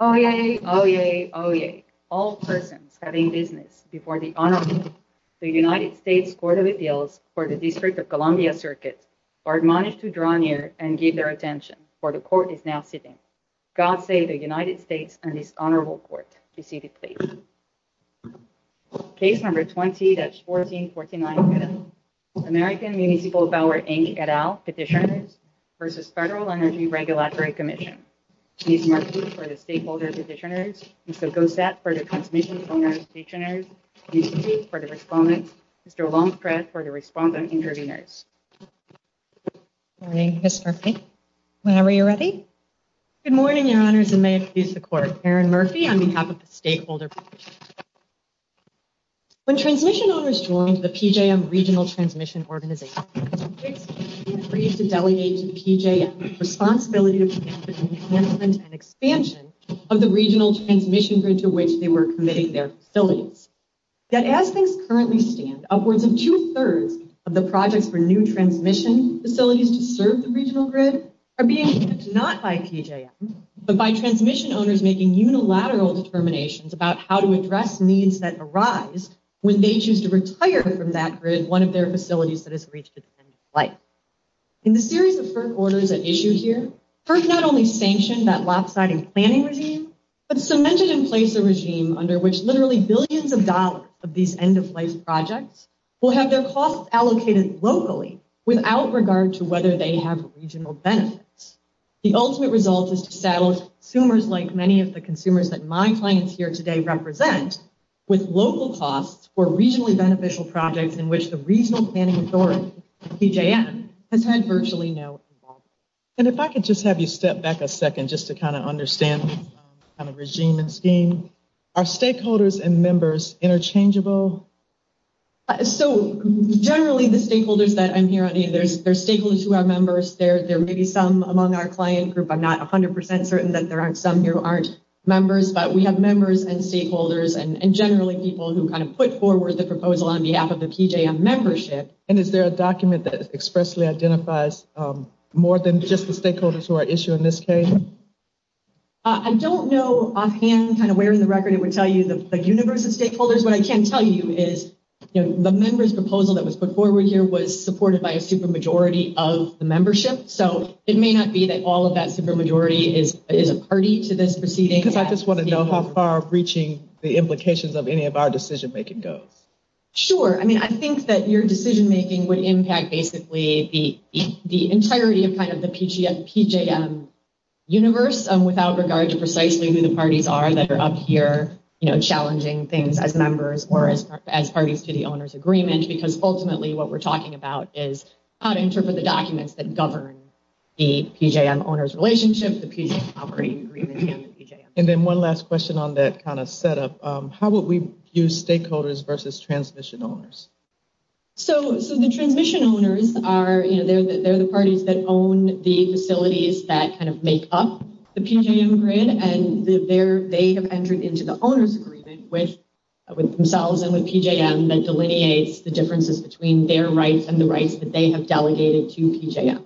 Oyez, oyez, oyez, all persons having business before the Honorable, the United States Court of Appeals for the District of Columbia Circuit, are admonished to draw near and give their attention, for the Court is now sitting. God save the United States and this Honorable Court. Case number 20, that's 1449A, American Municipal Power, Inc. et al. Petition v. Federal Energy Regulatory Commission. Ms. Murphy for the Stakeholder Petitioners, Mr. Gossett for the Consumption Program Petitioners, Ms. Keith for the Respondents, Mr. Longstress for the Respondent Intervenors. Good morning, Ms. Murphy. Whenever you're ready. Good morning, Your Honors, and may it please the Court. Erin Murphy on behalf of the Stakeholder Petitioners. When transmission owners joined the PJM Regional Transmission Organization, they agreed to delegate to PJM the responsibility for the enhancement and expansion of the regional transmission grid to which they were committing their facilities. Yet, as things currently stand, upwards of two-thirds of the projects for new transmission facilities to serve the region are not by PJM, but by transmission owners making unilateral determinations about how to address needs that arise when they choose to retire from that grid one of their facilities that has reached its end-of-life. In the series of first orders at issue here, FERC not only sanctioned that lopsided planning regime, but cemented in place a regime under which literally billions of dollars of these end-of-life projects will have their costs allocated locally without regard to whether they have regional benefits. The ultimate result is to establish consumers like many of the consumers that my clients here today represent with local costs for regionally beneficial projects in which the Regional Planning Authority, PJM, has had virtually no involvement. And if I could just have you step back a second just to kind of understand the regime and scheme. Are stakeholders and members interchangeable? So, generally the stakeholders that I'm hearing, there's stakeholders who are members, there may be some among our client group. I'm not 100% certain that there are some who aren't members, but we have members and stakeholders and generally people who kind of put forward the proposal on behalf of the PJM membership. And is there a document that expressly identifies more than just the stakeholders who are issued in this case? I don't know offhand kind of where in the stakeholders, what I can tell you is the member's proposal that was put forward here was supported by a supermajority of the membership. So, it may not be that all of that supermajority is a party to this proceeding. I just want to know how far reaching the implications of any of our decision-making go. Sure. I mean, I think that your decision-making would impact basically the entirety of kind of the PJM universe without regard to precisely who the parties are that are up here, you know, challenging things as members or as parties to the owner's agreement, because ultimately what we're talking about is how to interpret the documents that govern the PJM owner's relationship, the PJM operating agreement, and the PJM. And then one last question on that kind of setup. How would we use stakeholders versus transmission owners? So, the transmission owners are, you know, they're the parties that own the facilities that kind of make up the PJM grid, and they have entered into the owner's agreement with themselves and with PJM that delineates the differences between their rights and the rights that they have delegated to PJM.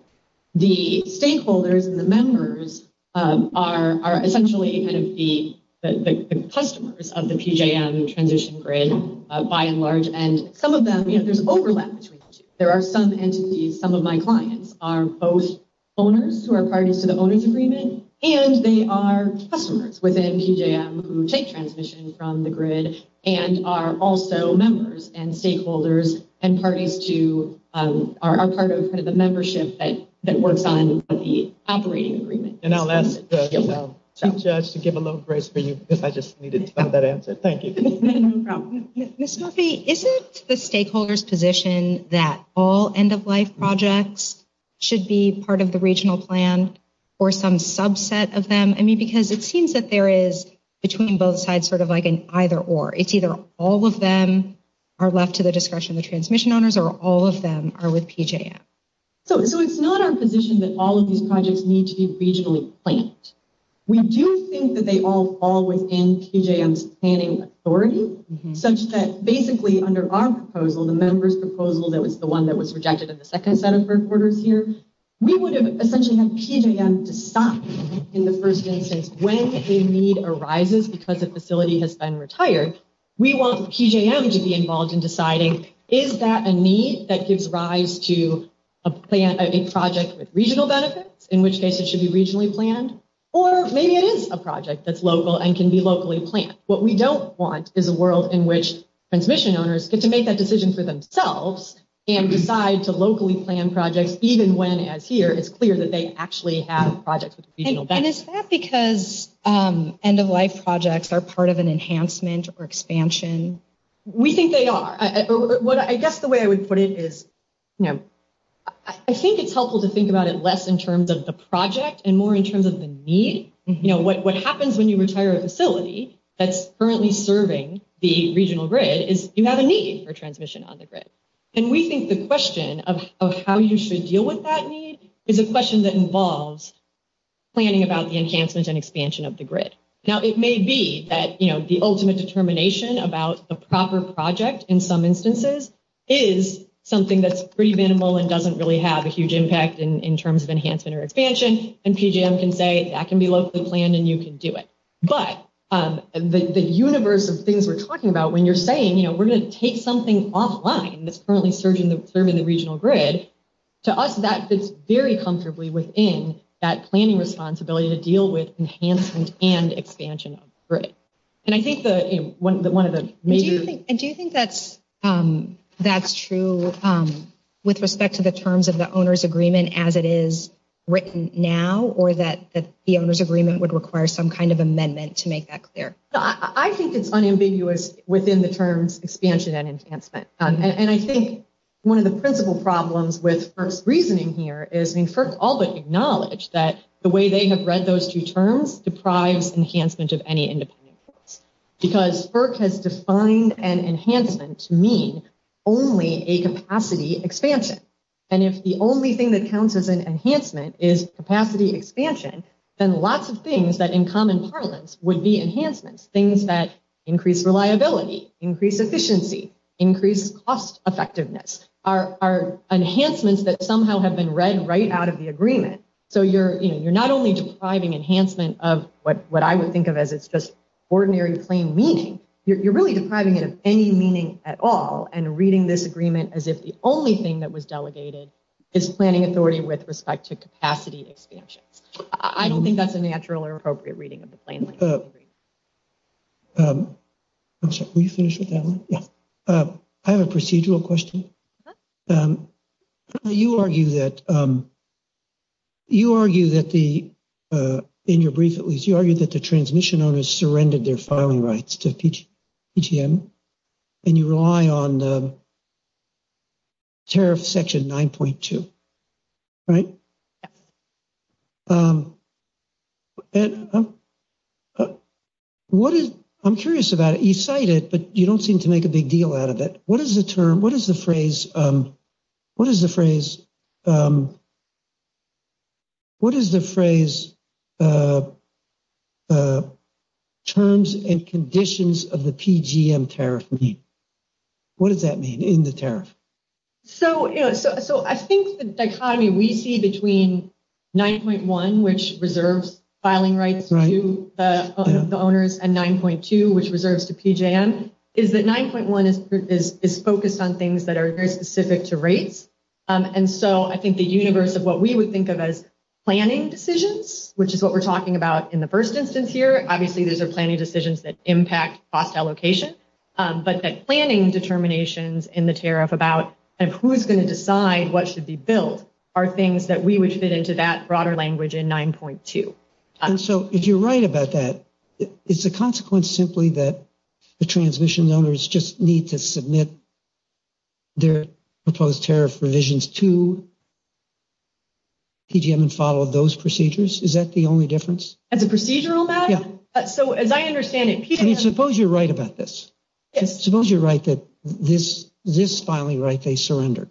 The stakeholders and the members are essentially kind of the customers of the PJM transition grid by and large, and some of them, you know, there are some entities, some of my clients are both owners who are parties to the owner's agreement, and they are customers within PJM who take transmission from the grid and are also members and stakeholders and parties to, are part of the membership that works on the operating agreement. And now that's it. I'll take a chance to give a little grace for you because I just needed to find that answer. Thank you. Ms. Duffy, isn't the stakeholders' position that all end-of-life projects should be part of the regional plan or some subset of them? I mean, because it seems that there is between both sides sort of like an either-or. It's either all of them are left to the discretion of the transmission owners or all of them are with PJM. So, it's not our position that all of these projects need to be regionally planned. We do think that they all fall within PJM's planning authority, such that basically under our proposal, the member's proposal that was the one that was rejected in the second set of first orders here, we would have essentially had PJM to stop in the first instance when a need arises because a facility has been retired. We want PJM to be involved in deciding, is that a need that gives rise to a project with regional benefits, in which case it should be regionally planned, or maybe it is a project that's local and can be locally planned. What we don't want is a world in which transmission owners can make that decision for themselves and decide to locally plan projects even when, as here, it's clear that they actually have projects with regional benefits. And is that because end-of-life projects are part of an enhancement or expansion? We think they are. I guess the way I would put it is, I think it's helpful to think about it less in terms of the project and more in terms of the need. What happens when you retire a facility that's currently serving the regional grid is you have a need for transmission on the grid. And we think the question of how you should deal with that need is a question that involves planning about the enhancement and expansion of the grid. Now, it may be that the ultimate determination about a proper project, in some instances, is something that's preventable and doesn't really have a huge impact in terms of enhancement or expansion. And PJM can say, that can be locally planned and you can do it. But the universe of things we're talking about, when you're saying, we're going to take something offline that's currently serving the regional grid, to us, that fits very comfortably within that planning responsibility to deal with enhancement and expansion of the grid. And do you think that's true with respect to the terms of the owner's agreement as it is written now or that the owner's agreement would require some kind of amendment to make that clear? I think it's unambiguous within the terms expansion and enhancement. And I think one of the principal problems with first reasoning here is, first of all, acknowledge that the way they have read those two terms deprive enhancement of any independence. Because FERC has defined an enhancement to mean only a capacity expansion. And if the only thing that counts as an enhancement is capacity expansion, then lots of things that, in common parlance, would be enhancements, things that increase reliability, increase efficiency, increase cost effectiveness, are enhancements that somehow have been read right out of the agreement. So you're not only depriving enhancement of what I would think of as just ordinary plain meaning. You're really depriving it of any meaning at all and reading this agreement as if the only thing that was delegated is planning authority with respect to capacity expansion. I don't think that's a natural or appropriate reading of the plan. I'm sorry, will you finish with that one? I have a procedural question. You argue that the, in your brief at least, you argue that the transmission owners surrendered their filing rights to PTN and you rely on the tariff section 9.2, right? Yes. I'm curious about it. You cite it, but you don't seem to make a big deal out of it. What is the term, what is the phrase, what is the phrase, what is the phrase terms and conditions of the PGM tariff mean? What does that mean in the tariff? So I think the dichotomy we see between 9.1, which reserves filing rights to the owners, and 9.2, which reserves to PGM, is that 9.1 is focused on things that are very specific to rates. And so I think the universe of what we would think of as planning decisions, which is what we're talking about in the first instance here, obviously these are planning decisions that impact FOTS allocation, but that planning determinations in the tariff about who is going to decide what should be billed are things that we would fit into that broader language in 9.2. And so if you're right about that, is the consequence simply that the transmission owners just need to submit their proposed tariff revisions to PGM and follow those procedures? Is that the only difference? And the procedure on that? Yeah. Suppose you're right about this. Suppose you're right that this filing right, they surrendered.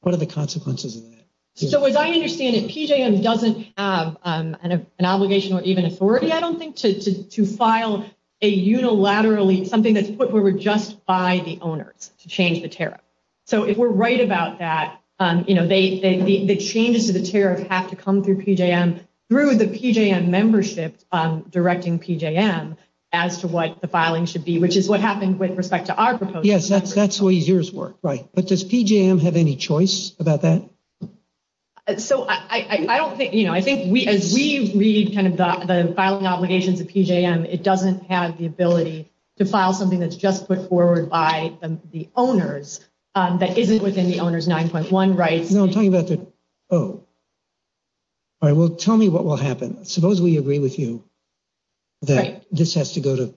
What are the consequences of that? So as I understand it, PGM doesn't have an obligation or even authority, I don't think, to file a unilaterally, something that's put where we're just by the owners to change the tariff. So if we're right about that, the changes to the tariff have to come through PGM, through the PGM membership directing PGM as to what the filing should be, which is what happened with respect to our proposal. Yes, that's the way yours worked. Right. But does PGM have any choice about that? So I don't think, you know, I think as we read kind of the filing obligations of PGM, it doesn't have the ability to file something that's just put forward by the owners that isn't within the owner's 9.1 rights. No, I'm talking about the, oh, all right, well, tell me what will happen. Suppose we agree with you that this has to go to,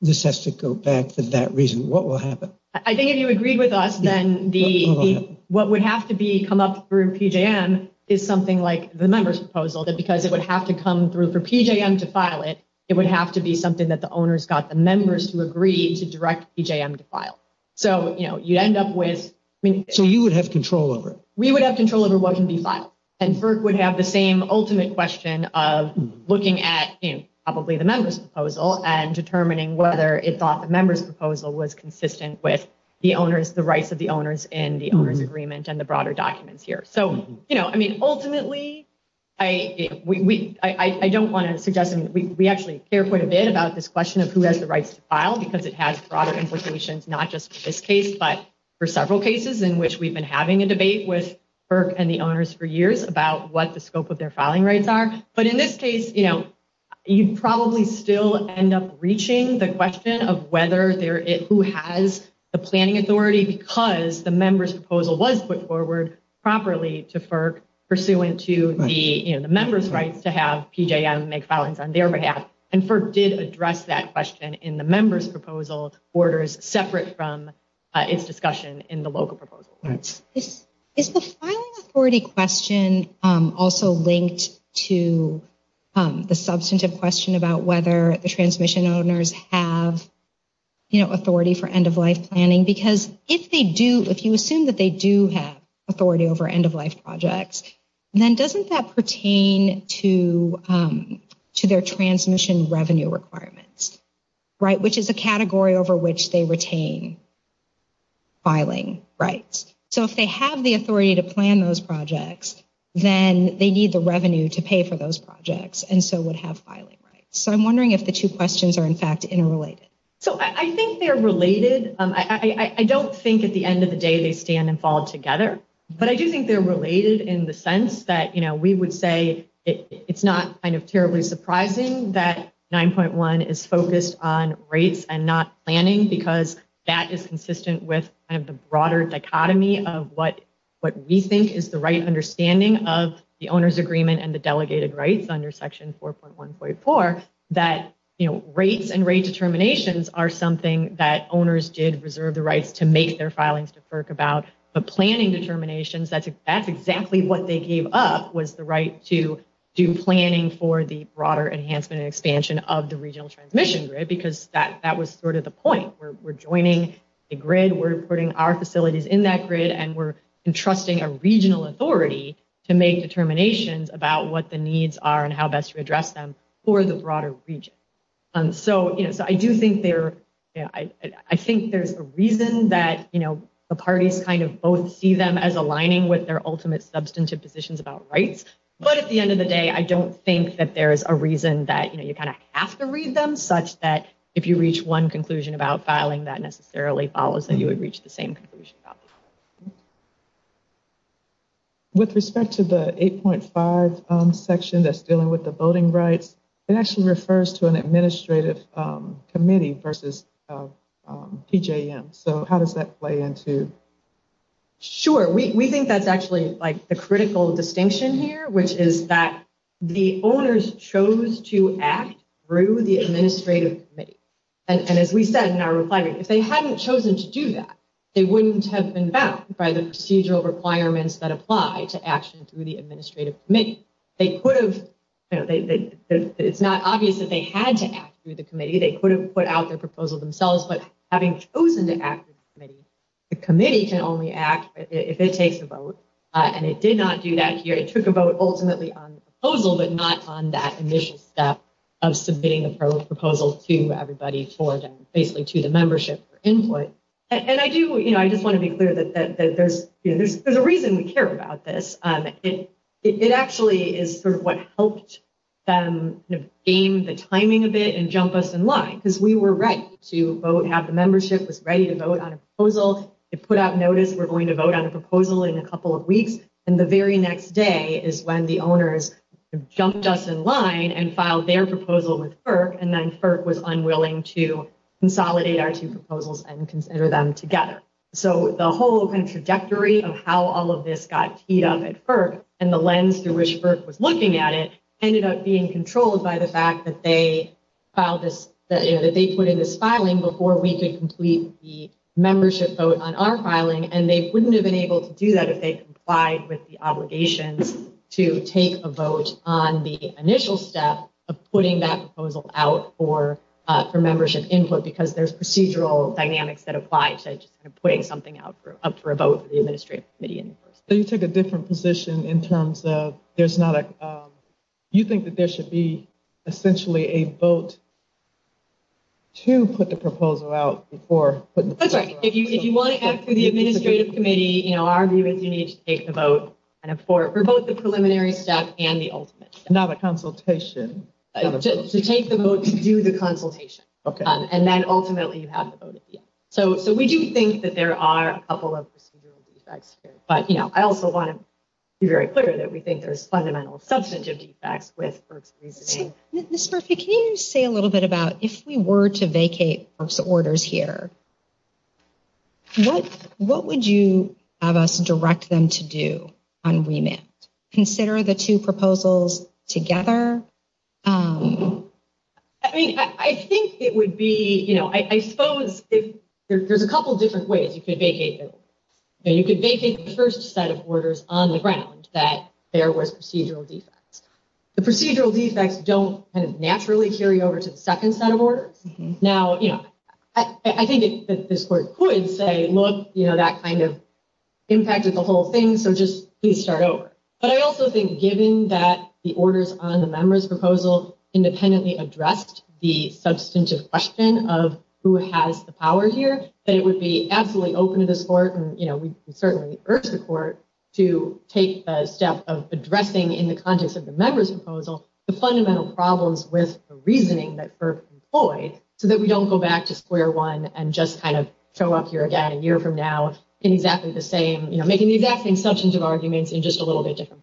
this has to go back to that reason. What will happen? I think if you agree with us, then the, what would have to be come up through PGM is something like the member's proposal, that because it would have to come through for PGM to file it, it would have to be something that the owners got the members to agree to direct PGM to file. So, you know, you end up with. So you would have control over it? We would have control over what would be filed. And FERC would have the same ultimate question of looking at, you know, probably the member's proposal and determining whether it thought the member's proposal was consistent with the owners, the rights of the owners in the owner's agreement and the broader documents here. So, you know, I mean, ultimately, I don't want to suggest, we actually care quite a bit about this question of who has the rights to file because it has broader implications, not just in this case, but for several cases in which we've been having a debate with FERC and the owners for years about what the scope of their filing rights are. But in this case, you know, you probably still end up reaching the question of whether there is who has the planning authority because the member's proposal was put forward properly to FERC, pursuant to the member's right to have PGM make filings on their behalf. And FERC did address that question in the member's proposal, orders separate from its discussion in the local proposal. Is the filing authority question also linked to the substantive question about whether the transmission owners have, you know, authority for end-of-life planning? Because if they do, if you assume that they do have authority over end-of-life projects, then doesn't that pertain to their transmission revenue requirements, right, which is a category over which they retain filing rights? So if they have the authority to plan those projects, then they need the revenue to pay for those projects and so would have filing rights. So I'm wondering if the two questions are, in fact, interrelated. So I think they're related. I don't think at the end of the day they stand and fall together, but I do think they're related in the sense that, you know, we would say it's not kind of terribly surprising that 9.1 is focused on rates and not planning because that is consistent with kind of the broader dichotomy of what we think is the right understanding of the owner's agreement and the delegated rights under Section 4.1.4, that, you know, rates and rate determinations are something that owners did reserve the rights to make their filings to FERC about, but planning determinations, that's exactly what they gave up was the right to do planning for the broader enhancement and expansion of the regional transmission grid because that was sort of the point. We're joining the grid, we're putting our facilities in that grid, and we're entrusting a regional authority to make determinations about what the needs are and how best to address them for the broader region. So, you know, I do think there, I think there's a reason that, you know, the parties kind of both see them as aligning with their ultimate substantive positions about rights, but at the end of the day, I don't think that there's a reason that, you know, you kind of have to read them such that if you reach one conclusion about filing, that necessarily follows that you would reach the same conclusion. With respect to the 8.5 section that's dealing with the voting rights, it actually refers to an administrative committee versus TJM. So how does that play into... Sure. We think that's actually like a critical distinction here, which is that the owners chose to act through the administrative committee. And as we said in our reply, if they hadn't chosen to do that, they wouldn't have been bound by the procedural requirements that apply to action through the administrative committee. It's not obvious that they had to act through the committee. They could have put out their proposal themselves, but having chosen to act through the committee, the committee can only act if it takes a vote. And it did not do that here. It took a vote ultimately on the proposal, but not on that initial step of submitting the proposal to everybody for them, basically to the membership for input. And I do, you know, I just want to be clear that there's, you know, there's a reason we care about this. It actually is sort of what helped them gain the timing of it and jump us in line because we were right to vote, have the membership that's ready to vote on proposals, to put out notice, we're going to vote on a proposal in a couple of weeks. And the very next day is when the owners jumped us in line and filed their proposal with FERC, and then FERC was unwilling to consolidate our two proposals and consider them together. So the whole kind of trajectory of how all of this got teed up at FERC and the lens through which FERC was looking at it ended up being controlled by the fact that they filed this, that they put in this filing before we could complete the membership vote on our filing. And they wouldn't have been able to do that if they complied with the obligation to take a vote on the initial step of putting that proposal out for, for membership input, because there's procedural dynamics that apply to putting something out for a vote for the administrative committee input. So you take a different position in terms of, there's not a, you think that there should be essentially a vote to put the proposal out before. That's right. If you want to ask the administrative committee, you know, our view is you need to take the vote for both the preliminary step and the ultimate step. Not a consultation. To take the vote to do the consultation. And then ultimately you have the vote at the end. So, so we do think that there are a couple of procedural defects here, but you know, I also want to be very clear that we think there's fundamental substantive defects with FERC's reasoning. Ms. Murphy, can you say a little bit about if we were to vacate FERC's orders here, what, what would you have us direct them to do on remit? Consider the two proposals together. I think it would be, you know, I suppose there's a couple of different ways you could vacate this. You could vacate the first set of orders on the ground that there were procedural defects. The procedural defects don't kind of naturally carry over to the second set of orders. Now, you know, I think this court could say, look, you know, that kind of impacted the whole thing. So just please start over. But I also think given that the orders on the members' proposals independently addressed the substantive question of who has the power here, that it would be absolutely open to this court. And you know, we certainly urge the court to take a step of addressing in the context of the members' proposal, the fundamental problems with the reasoning that FERC employed so that we don't go back to square one and just kind of show up here again a year from now in exactly the same, you know, in just a little bit different.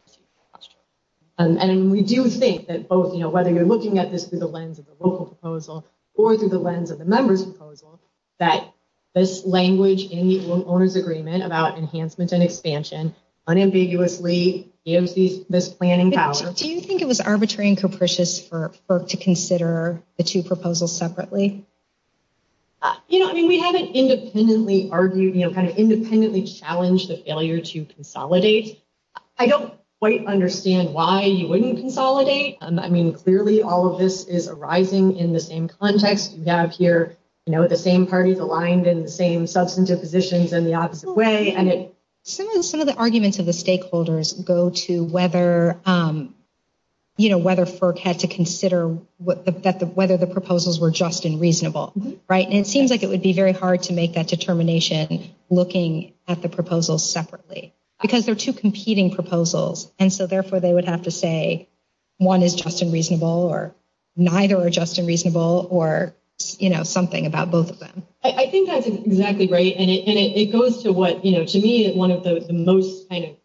And we do think that both, you know, whether you're looking at this through the lens of the local proposal or through the lens of the members' proposal, that this language in the owners' agreement about enhancement and expansion unambiguously gives this planning power. Do you think it was arbitrary and capricious for FERC to consider the two You know, I mean, we haven't independently argued, you know, kind of independently challenged the failure to consolidate. I don't quite understand why you wouldn't consolidate. I mean, clearly all of this is arising in the same context. You have here, you know, the same parties aligned in the same substantive positions in the opposite way. Some of the arguments of the stakeholders go to whether, you know, whether FERC had to consider whether the proposals were just and reasonable. Right. And it seems like it would be very hard to make that determination looking at the proposals separately because they're two competing proposals. And so therefore they would have to say, one is just and reasonable or neither are just and reasonable or, you know, something about both of them. I think that's exactly right. And it goes to what, you know, to me, one of the most kind of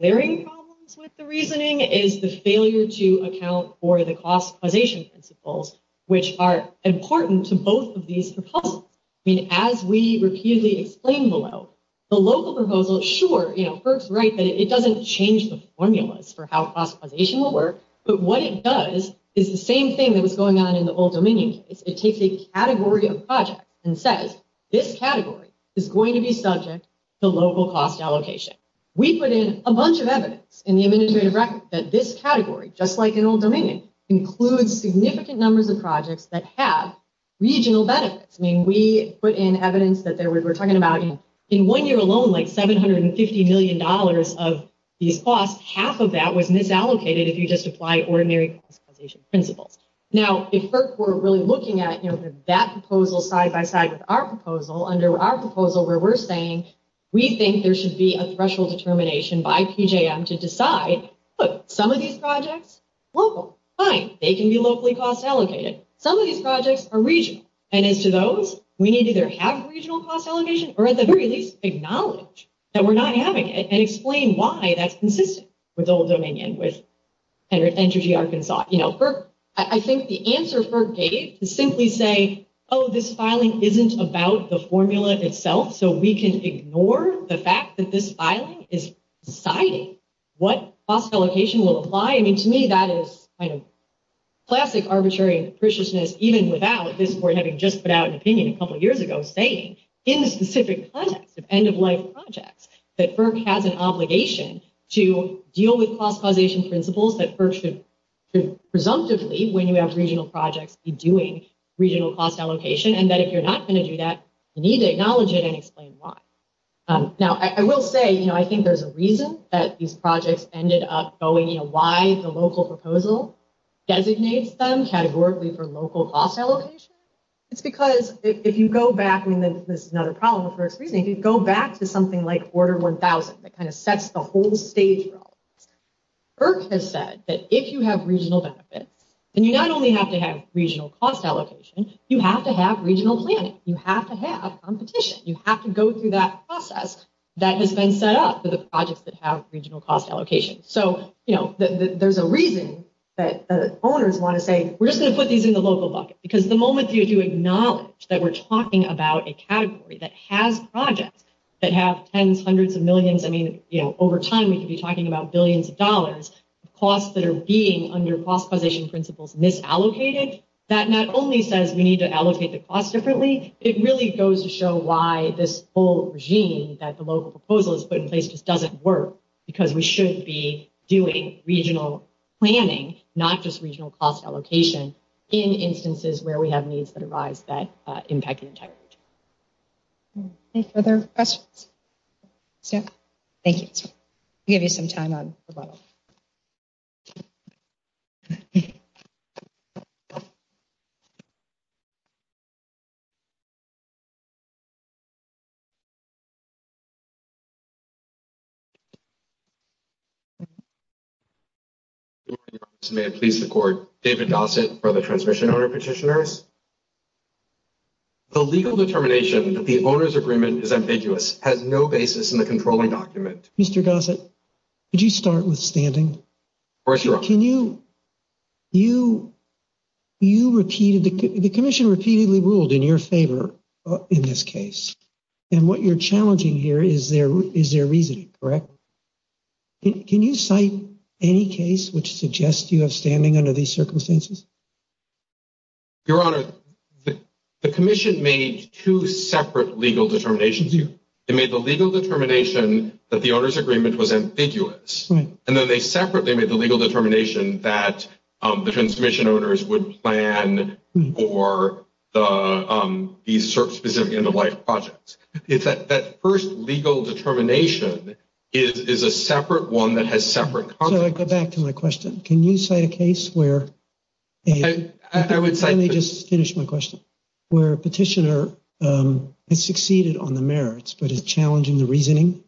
varying problems with the reasoning is the failure to account for the classification principles, which are important to both of these proposals. I mean, as we repeatedly explained below, the local proposal, sure, you know, FERC's right that it doesn't change the formulas for how consolidation will work. But what it does is the same thing that was going on in the Old Dominion. It takes a category of projects and says, this category is going to be subject to local cost allocation. We put in a bunch of evidence in the administrative record that this category, just like in Old Dominion, includes significant numbers of projects that have regional benefits. I mean, we put in evidence that we were talking about in one year alone, like $750 million of these costs, half of that was misallocated if you just apply ordinary consolidation principles. Now, if FERC were really looking at, you know, that proposal side by side with our proposal, under our proposal where we're saying we think there should be a special determination by PJM to decide, look, some of these projects, local, fine. They can be locally cost allocated. Some of these projects are regional. And as to those, we need to either have regional cost allocation, or at the very least acknowledge that we're not having it, and explain why that's consistent with Old Dominion, with Energy Arkansas. You know, I think the answer for Dave is simply say, oh, this filing isn't about the formula itself. So we can ignore the fact that this filing is deciding what cost allocation should apply. I mean, to me, that is kind of classic arbitrary, even without having just put out an opinion a couple of years ago, saying in the specific context of end-of-life projects, that FERC has an obligation to deal with cost causation principles that FERC should do presumptively when we have regional projects doing regional cost allocation. And that if you're not going to do that, Now, I will say, you know, I think there's a reason that these projects ended up going, you know, why the local proposal designates them categorically for local cost allocation. It's because if you go back, and this is another problem with FERC, really, if you go back to something like Order 1000, that kind of sets the whole stage right, FERC has said that if you have regional benefits, then you not only have to have regional cost allocation, you have to have regional planning. You have to have competition. You have to go through that process that has been set up for the projects that have regional cost allocation. So, you know, there's a reason that the owners want to say, we're just going to put these in the local bucket, because the moment you acknowledge that we're talking about a category that has projects that have tens, hundreds of millions, I mean, you know, over time, we could be talking about billions of dollars, costs that are being under cost causation principles misallocated, that not only says we need to allocate the cost differently, it really goes to show why this whole regime that the local proposal has put in place just doesn't work, because we should be doing regional planning, not just regional cost allocation, in instances where we have needs that arise that impact each other. Any further questions? Thank you. We'll give you some time on the webinar. David Gossett for the Transmission Owner Petitioners. The legal determination that the owner's agreement is ambiguous has no basis in the controlling document. Mr. Gossett, could you start withstanding? Of course, Your Honor. Can you, you, you repeated, ambiguous. In this case, and what you're challenging here is their, is their reasoning, correct? Can you cite any case which suggests you have standing under these circumstances? Your Honor, the commission made two separate legal determinations. It made the legal determination that the owner's agreement was ambiguous. And then they separate, they made the legal determination that the transmission owners would plan for these specific end-of-life projects. That first legal determination is a separate one that has separate consequences. So I go back to my question. Can you cite a case where, let me just finish my question, where a petitioner had succeeded on the merits, but is challenging the reasoning?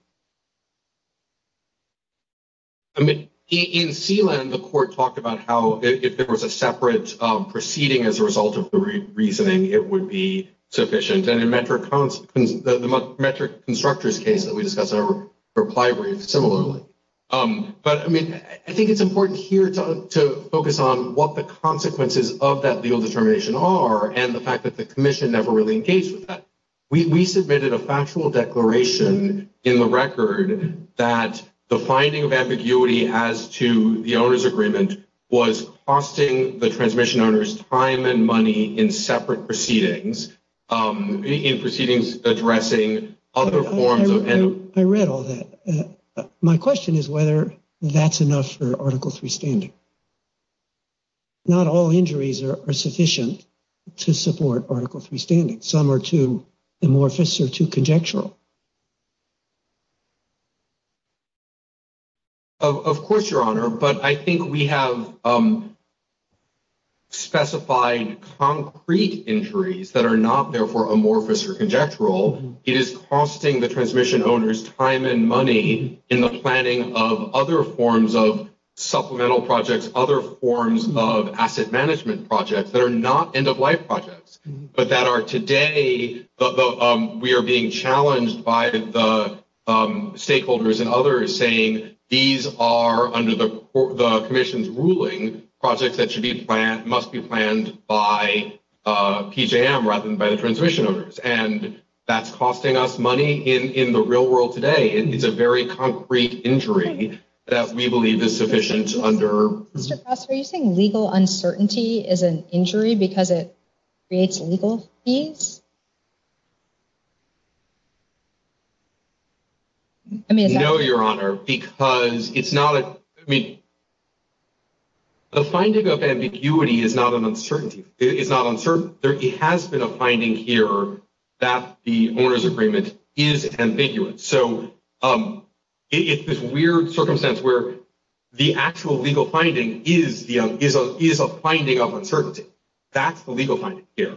I mean, in Sealand, the court talked about how, if there was a separate proceeding as a result of the reasoning, it would be sufficient. And the metric constructors case that we discussed in our reply were similar. But I mean, I think it's important here to focus on what the consequences of that legal determination are and the fact that the commission never really engaged with that. We submitted a factual declaration in the record that the finding of the agreement was costing the transmission owners time and money in separate proceedings, in proceedings addressing other forms of. I read all that. My question is whether that's enough for article three standard. Not all injuries are sufficient to support article three statement. Some are too amorphous or too contextual. Of course your honor. But I think we have specified concrete injuries that are not therefore amorphous or conjectural. It is costing the transmission owners time and money in the planning of other forms of supplemental projects, other forms of asset management projects that are not end of life projects, but that are today. We are being challenged by the stakeholders and others saying these are under the commission's ruling project that should be planned, must be planned by PJM rather than by the transmission owners. And that's costing us money in the real world today. It's a very concrete injury that we believe is sufficient under legal uncertainty is an injury because it creates legal fees. I mean, no, your honor, because it's not, I mean, the finding of ambiguity is not an uncertainty. It's not uncertain. There has been a finding here that the owner's agreement is ambiguous. So it's this weird circumstance where the actual legal finding is, you know, is, is a finding of uncertainty. That's the legal findings here.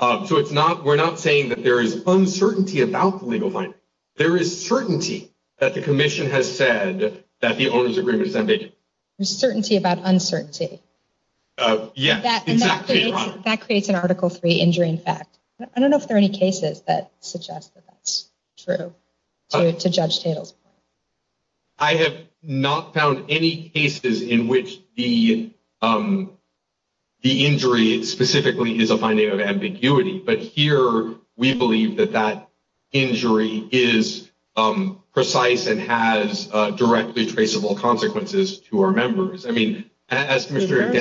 So it's not, we're not saying that there is uncertainty about legal violence. There is certainty that the commission has said that the owner's agreement is unambiguous. There's a certainty about uncertainty. Yes. That creates an article three injuring fact. I don't know if there are any cases that suggest that that's true to judge sales. I have not found any cases in which the, the injury specifically is a finding of ambiguity, but here we believe that that injury is precise and has a directly traceable consequences to our members. I mean, as Mr.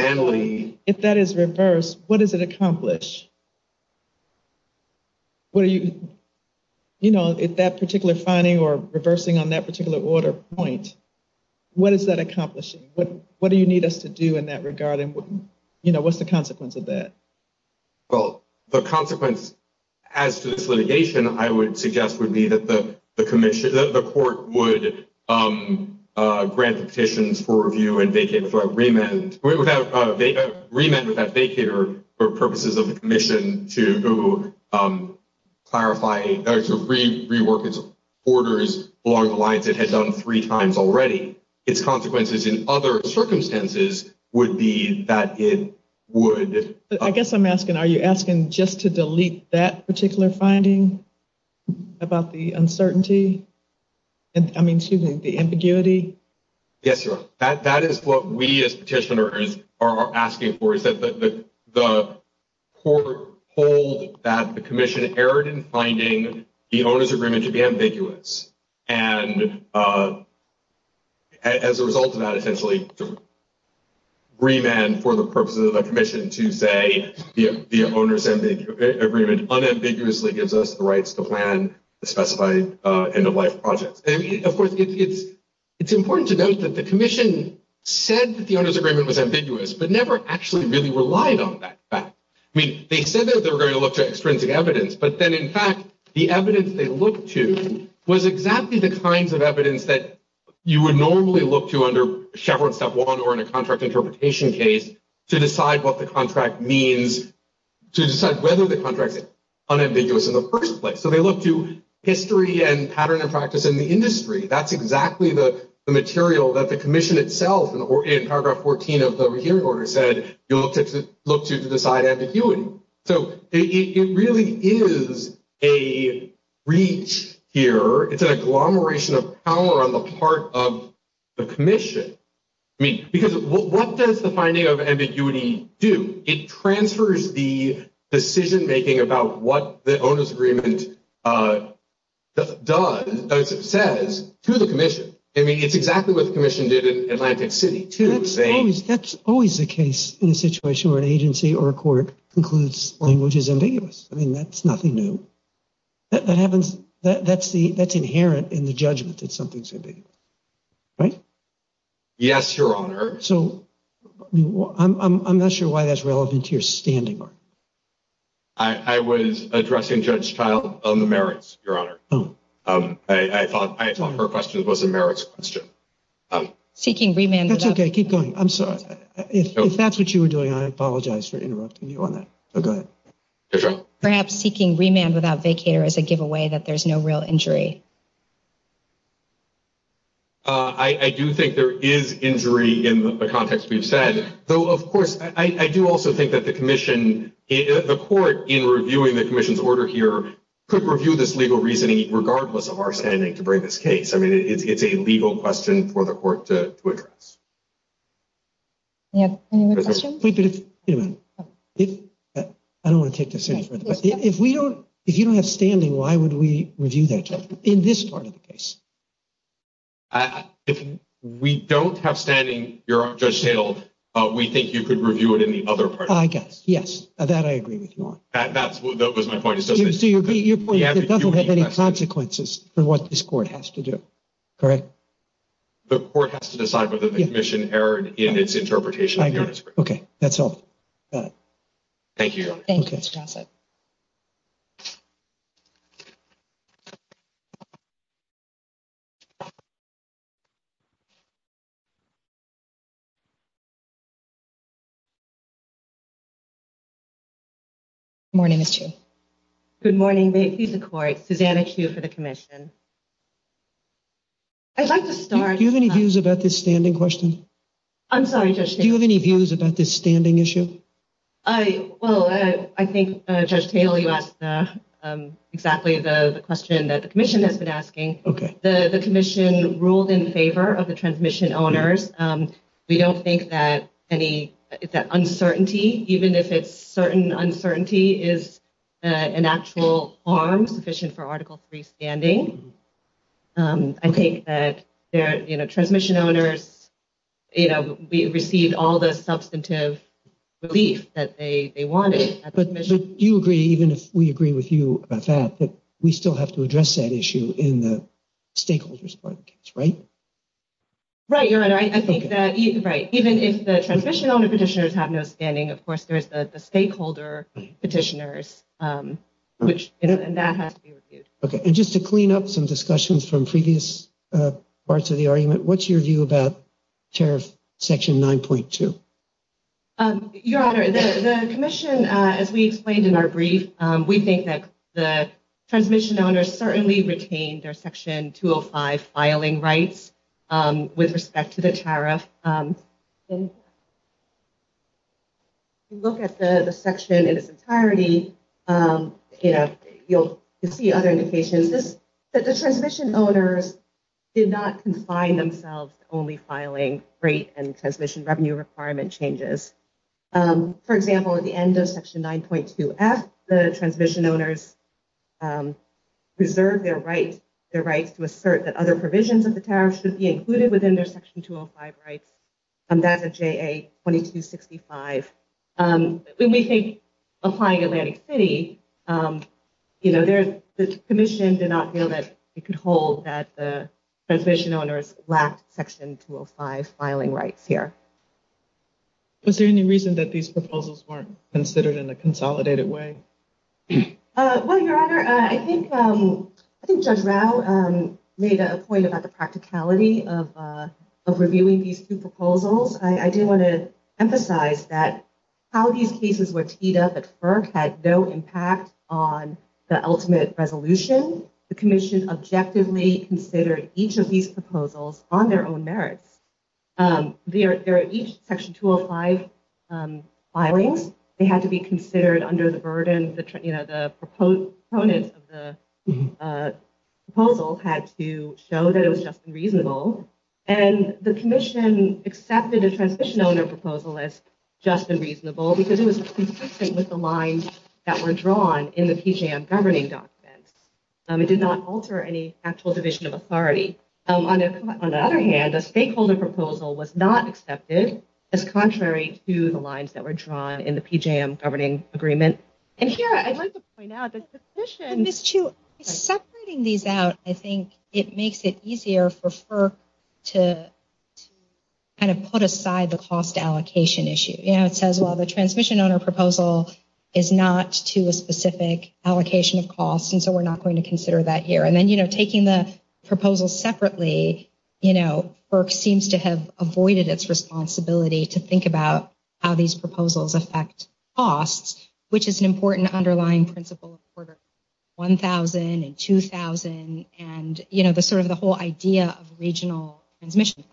If that is reversed, what does it accomplish? Well, you know, if that particular finding or reversing on that particular order point, what does that accomplish? What do you need us to do in that regard? And, you know, what's the consequence of that? Well, the consequence as to this litigation, I would suggest would be that the commission of the court would grant petitions for review and make it for a remand. They have remanded that they fear for purposes of the commission to clarify, to re rework its orders along the lines that had done three times already. It's consequences in other circumstances would be that it would, it would have to be reversed. I guess I'm asking, are you asking just to delete that particular finding about the uncertainty? I mean, she's in the ambiguity. Yes, that is what we as petitioners are asking for is that the, the court hold that the commission erred in finding the owners agreement to be ambiguous. And as a result of that, essentially remand for the purposes of the commission Tuesday, the owners and the agreement unambiguously gives us the rights to plan the specified end of life project. It's important to note that the commission said that the owners agreement was ambiguous, but never actually really relied on that fact. I mean, they said that they were going to look at extrinsic evidence, but then in fact, the evidence they looked to was exactly the kinds of evidence that you would normally look to under Shepard step one, or in a contract interpretation case to decide what the contract means, to decide whether the contract is unambiguous in the first place. So they look to history and pattern of practice in the industry. That's exactly the material that the commission itself in paragraph 14 of the hearing order said, you'll look to look to decide as a human. So it really is a reach here. It's an agglomeration of power on the part of the commission. Because what does the finding of ambiguity do? It transfers the decision-making about what the owner's agreement does. It says to the commission, I mean, it's exactly what the commission did in Atlantic city. That's always the case in a situation where an agency or a court includes which is ambiguous. I mean, that's nothing new. That happens. That's the, that's inherent in the judgment. It's something to be. Yes, your honor. So I'm not sure why that's relevant to your standing. I was addressing judge trial on the merits. Your honor. I thought her question was a marriage question. That's okay. Keep going. I'm sorry. If that's what you were doing, I apologize for interrupting you on that. Perhaps seeking remand without vacater as a giveaway that there's no real injury. I do think there is injury in the context we've said, though, of course, I do also think that the commission is a court in reviewing the commission's order here could review this legal reasoning, regardless of our standing to bring this case. I mean, it's a legal question for the court to. Yeah. I don't want to take this. If we don't, if you don't have standing, why would we review that in this part of the case? If we don't have standing, your honor, we think you could review it in the other part. I guess. Yes. That I agree with you on that. That was my point. It doesn't have any consequences for what this court has to do. Correct. The court has to decide whether the commission error in its interpretation. Okay. That's all. Thank you. Morning. Good morning. Susanna Q for the commission. Do you have any views about this standing question? I'm sorry. Do you have any views about this standing issue? I, well, I, I think, exactly the question that the commission has been asking the commission rules in favor of the transmission owners. We don't think that any, it's that uncertainty, even if it's certain uncertainty is an actual arm position for article three standing. I think that there, you know, we received all the substantive relief that they wanted. Do you agree? Even if we agree with you about that, but we still have to address that issue in the stakeholders part of the case. Right. Right. Right. Even if the transition on the petitioners have no standing, of course, there's the stakeholder petitioners, which that has to be reviewed. Okay. And just to clean up some discussions from previous parts of the commission, I'm going to turn it over to Susanna to talk a little bit more about the And then I'm going to turn it over to the commission to talk a little bit more about the section 9.2. Your honor, the commission, as we explained in our brief, we think that the transmission owners certainly retained their section two or five filing rights with respect to the tariff. Look at the section in its entirety. You know, you'll see other indications that the transition owners did not confine themselves to only filing rate and transition revenue requirement changes. For example, at the end of section 9.2, ask the transition owners preserve their right, their right to assert that other provisions of the tariff should be included within their section 205 rights. And that's a J.A. 2265. We may think applying Atlantic City, you know, there's this commission did not feel that it could hold that the transition owners last section 205 filing rights here. Is there any reason that these proposals weren't considered in a consolidated way? I think Judge Rao made a point about the practicality of reviewing these two proposals. I do want to emphasize that how these pieces were teed up at FERC had no impact on the ultimate resolution. The commission objectively considered each of these proposals on their own merits. There are each section 205 filings. They have to be considered under the burden of the, you know, the proponent of the proposal had to show that it was just unreasonable. And the commission accepted the transition owner proposal as just and reasonable because it was consistent with the lines that were drawn in the PJM governing document. It did not alter any actual division of authority. On the other hand, the stakeholder proposal was not accepted as contrary to the lines that were drawn in the PJM governing agreement. And here, I'd like to point out that the commission, separating these out, I think it makes it easier for FERC to kind of put aside the cost allocation issue. It says, well, the transition owner proposal is not to a specific allocation of costs. And so we're not going to consider that here. And then, you know, taking the proposal separately, you know, FERC seems to have avoided its responsibility to think about how these costs are allocated. I think it's important to underline principles for the 1,000 and 2,000 and, you know, the sort of the whole idea of regional transmission.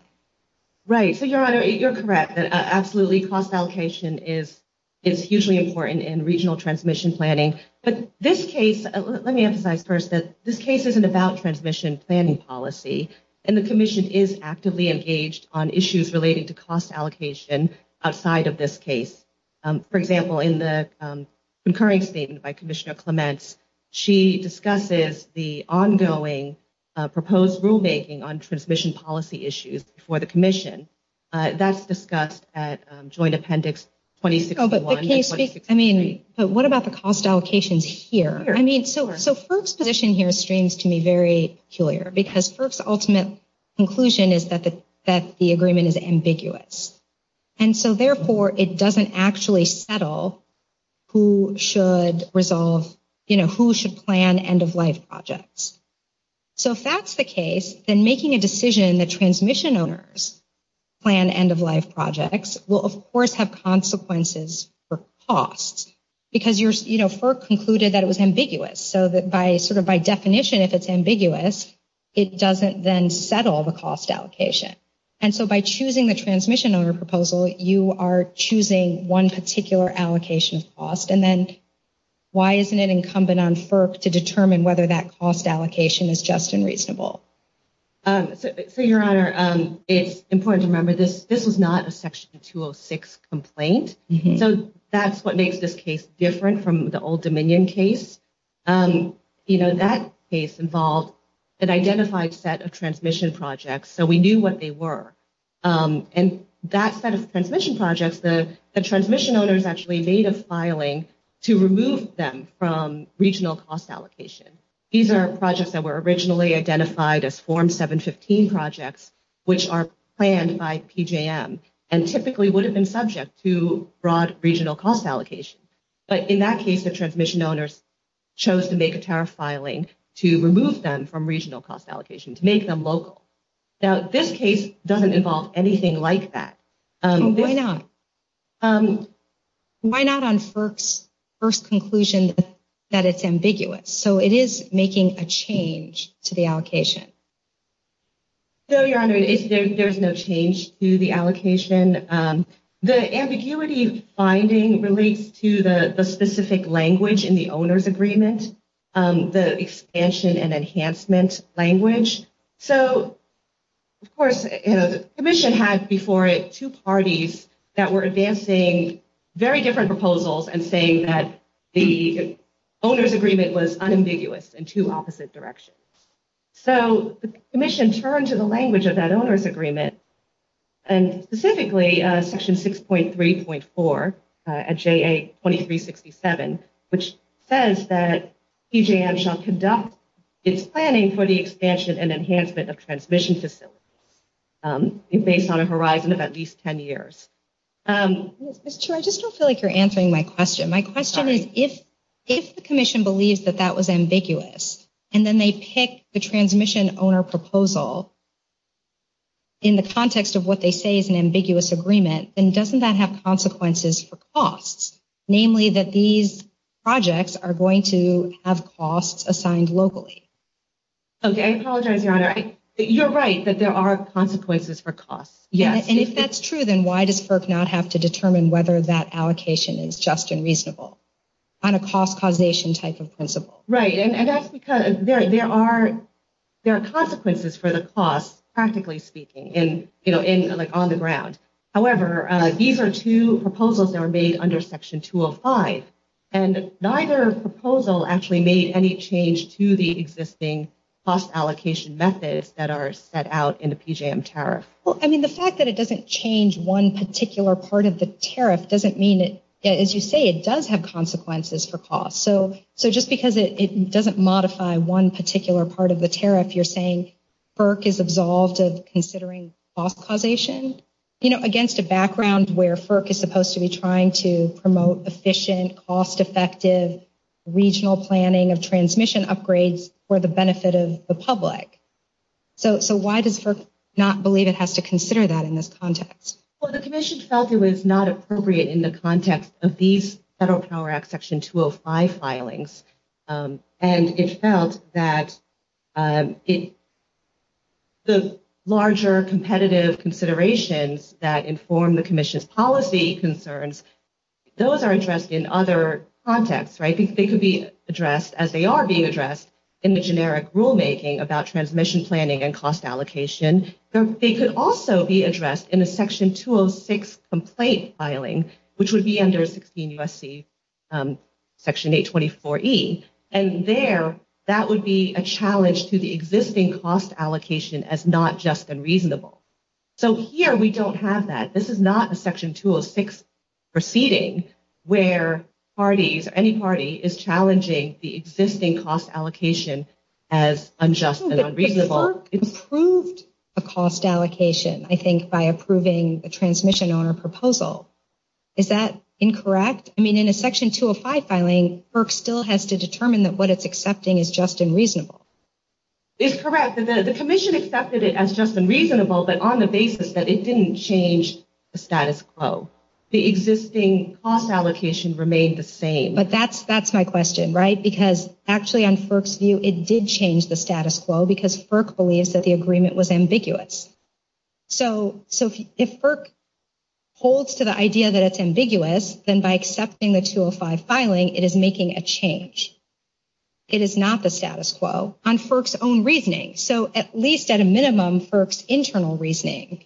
Right. So your Honor, you're correct. Absolutely. Cost allocation is hugely important in regional transmission planning. But this case, let me emphasize first, that this case isn't about transmission planning policy. And the commission is actively engaged on issues relating to cost allocation outside of this case. For example, in the concurring statement by Commissioner Clement, she discusses the ongoing proposed rulemaking on transmission policy issues for the commission. That's discussed at joint appendix 26. I mean, so what about the cost allocations here? I mean, so, so FERC's position here is strange to me, very peculiar, because FERC's ultimate conclusion is that the, the agreement is ambiguous. And so therefore it doesn't actually settle who should resolve, you know, who should plan end of life projects. So if that's the case, then making a decision that transmission owners plan end of life projects will of course have consequences for costs because you're, you know, FERC concluded that it was ambiguous. So that by sort of by definition, if it's ambiguous, it doesn't then settle the cost allocation. So by choosing the transmission owner proposal, you are choosing one particular allocation cost. And then why isn't it incumbent on FERC to determine whether that cost allocation is just and reasonable? For your honor, it's important to remember this. This was not a section 206 complaint. So that's what makes this case different from the old Dominion case. You know, that case involved an identified set of transmission projects. So we knew what they were. And that set of transmission projects, the transmission owners actually made a filing to remove them from regional cost allocation. These are projects that were originally identified as form 715 projects, which are planned by PJM and typically would have been subject to broad regional cost allocation. But in that case, the transmission owners chose to make a tariff filing to remove them from regional cost allocation. Now this case doesn't involve anything like that. Why not? Why not on FERC's first conclusion that it's ambiguous. So it is making a change to the allocation. So your honor, there's no change to the allocation. The ambiguity finding relates to the specific language in the owner's agreement, the expansion and enhancement language. Of course, you know, the commission had before it two parties that were advancing very different proposals and saying that the owner's agreement was unambiguous in two opposite directions. So the commission turned to the language of that owner's agreement and specifically section 6.3.4 at JA 2367, which says that PJM shall conduct its planning for the expansion and enhancement. And so it's based on a horizon of at least 10 years. I just don't feel like you're answering my question. My question is if the commission believes that that was ambiguous and then they pick the transmission owner proposal in the context of what they say is an ambiguous agreement, then doesn't that have consequences for costs? Namely that these projects are going to have costs assigned locally. Okay. I apologize. You're right that there are consequences for costs. Yeah. And if that's true, then why does FERC not have to determine whether that allocation is just unreasonable on a cost causation type of principle? Right. And that's because there are, there are consequences for the cost practically speaking in, you know, in like on the ground. However, these are two proposals that are made under section 205 and neither proposal actually made any change to the existing cost allocation methods that are set out in the PJM tariff. Well, I mean the fact that it doesn't change one particular part of the tariff doesn't mean that as you say, it does have consequences for costs. So, so just because it doesn't modify one particular part of the tariff, you're saying FERC is absolved of considering cost causation, you know, against the background where FERC is supposed to be trying to promote efficient cost-effective regional planning of transmission upgrades for the benefit of the public. So, so why does FERC not believe it has to consider that in this context? Well, the commission felt it was not appropriate in the context of these federal power act section 205 filings. And it felt that it, the larger competitive considerations that inform the commission's policy concerns, those are addressed in other contexts, right? They could be addressed as they are being addressed in the generic rulemaking about transmission planning and cost allocation. They could also be addressed in the section 206 complaint filing, which would be under 16 USC section 824E. And there, that would be a challenge to the existing cost allocation as not just unreasonable. So here we don't have that. This is not a section 206 proceeding where parties or any party is challenging the existing cost allocation as unjust and unreasonable. FERC approved a cost allocation, I think by approving a transmission on a proposal. Is that incorrect? I mean, in a section 205 filing, FERC still has to determine that what it's accepting is just unreasonable. It's correct. The commission accepted it as just unreasonable, but on the basis that it didn't change the status quo, the existing cost allocation remained the same. But that's, that's my question, right? Because actually on FERC's view, it did change the status quo because FERC believes that the agreement was ambiguous. So, so if FERC holds to the idea that it's ambiguous, then by accepting the 205 filing, it is making a change. It is not the status quo on FERC's own reasoning. So at least at a minimum, FERC's internal reasoning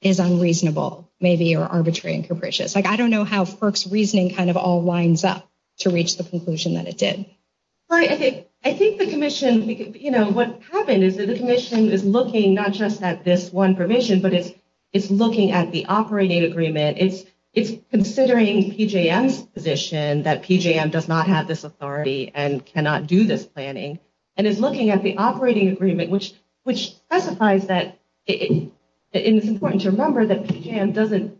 is unreasonable, maybe or arbitrary and capricious. Like, I don't know how FERC's reasoning kind of all lines up to reach the conclusion that it did. I think the commission, you know, what's happened is that the commission is looking not just at this one permission, but it's looking at the operating agreement. It's considering PJM's position that PJM does not have this authority and cannot do this planning. And it's looking at the operating agreement, which specifies that it's important to remember that PJM doesn't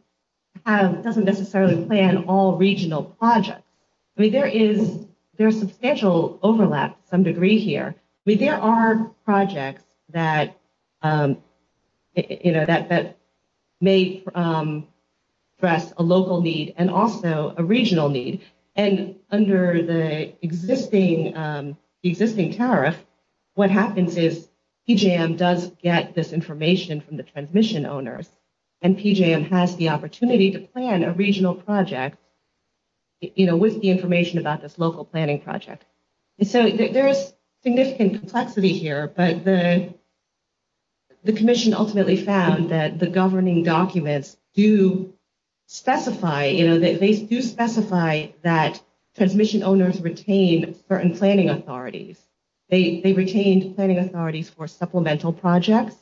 have, doesn't necessarily plan all regional projects. I mean, there is substantial overlap to some degree here. I mean, there are projects that, you know, that may address a local need and also a regional need. And under the existing tariff, what happens is PJM does get this information from the transmission owners and PJM has the opportunity to plan a regional project, you know, with the information about this local planning project. So there is significant complexity here, but the commission ultimately found that the governing documents do specify, you know, they do specify that transmission owners retain certain planning authorities. They retained planning authorities for supplemental projects.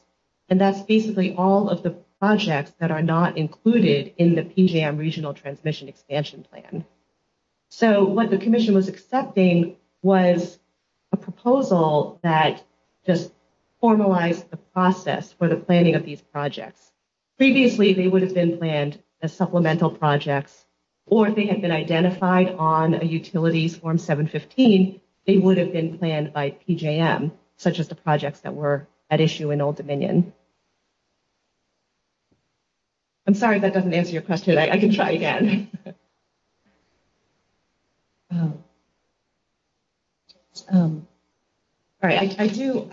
And that's basically all of the projects that are not included in the PJM regional transmission expansion plan. So what the commission was accepting was a proposal that just formalized the process for the planning of these projects. Previously, they would have been planned as supplemental projects, or if they had been identified on a utility form 715, they would have been planned by PJM, such as the projects that were at issue in Old Dominion. I'm sorry, that doesn't answer your question. I can try again. All right. I do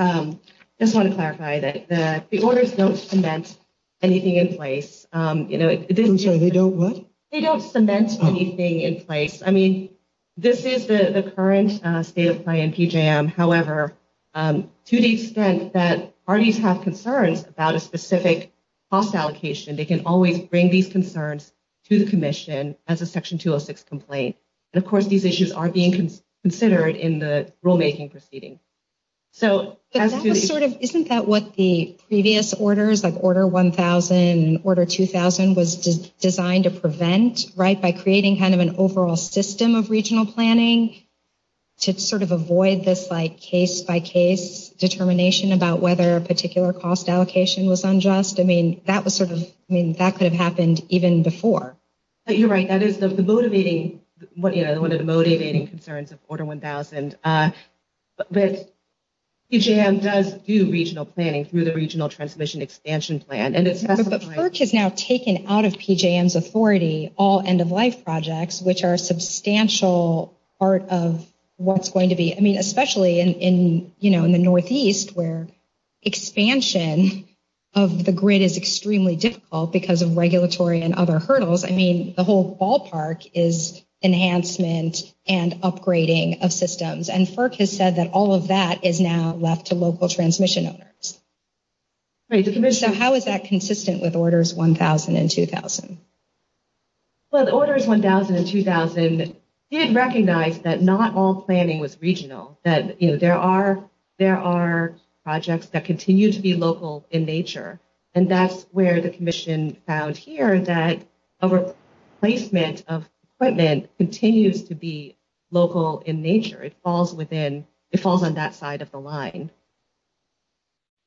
just want to clarify that the, the orders don't cement anything in place. You know, they don't cement anything in place. I mean, this is the current state of play in PJM. However, to the extent that parties have concerns about a specific cost allocation, they can always bring these concerns to the commission as a section 206 complaint. And of course these issues are being considered in the rulemaking proceedings. So isn't that what the previous orders, like order 1000, order 2000 was designed to prevent, right. By creating kind of an overall system of regional planning to sort of avoid this, like case by case determination about whether a particular cost allocation was unjust. I mean, that was sort of, I mean, that could have happened even before, but you're right. That is the motivating, what is motivating concerns of order 1000. I mean, there's a lot of work that needs to be done. But PJM does do regional planning through the regional transmission expansion plan. And it's now taken out of PJM's authority, all end of life projects, which are a substantial part of what's going to be, I mean, especially in, in, you know, in the Northeast where expansion of the grid is extremely difficult because of regulatory and other hurdles. I mean, the whole ballpark is enhancement and upgrading of systems. And FERC has said that all of that is now left to local transmission owners. Great. So how is that consistent with orders 1000 and 2000? Well, the orders 1000 and 2000 did recognize that not all planning was regional that, you know, there are, there are projects that continue to be local in nature. And that's where the commission found here that over placement of equipment continues to be local in nature. It falls within, it falls on that side of the line.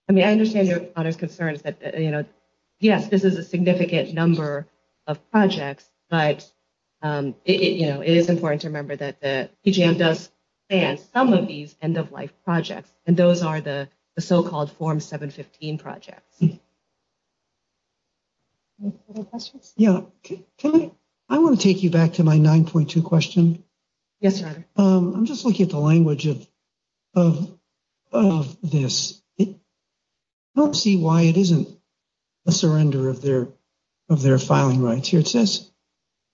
I mean, I understand your other concerns that, you know, yes, this is a significant number of projects, but it, you know, it is important to remember that the PJM does some of these end of life projects. And those are the so-called form seven 15 projects. Yeah. I want to take you back to my 9.2 question. Yes. I'm just looking at the language of, of this. I don't see why it isn't a surrender of their, of their filing rights here. It says,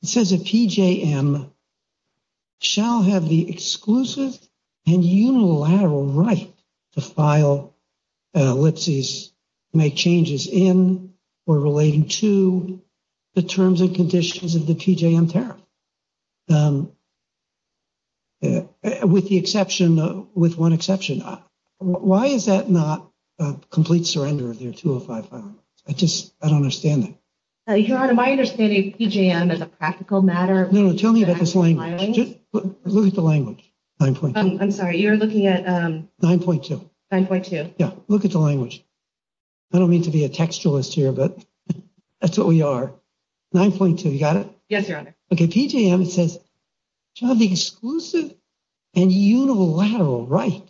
it says a PJM shall have the exclusive and unilateral right to file. Let's see, make changes in or relating to the terms and conditions of the PJM. Yeah. With the exception, with one exception, why is that not a complete surrender of your two or five? I just, I don't understand. My understanding of PJM as a practical matter. No, tell me the language. I'm sorry. You're looking at 9.2. 9.2. Yeah. Look at the language. I don't mean to be a textualist here, but that's what we are. 9.2. You got it. Yes. Okay. PJM says shall have the exclusive and unilateral right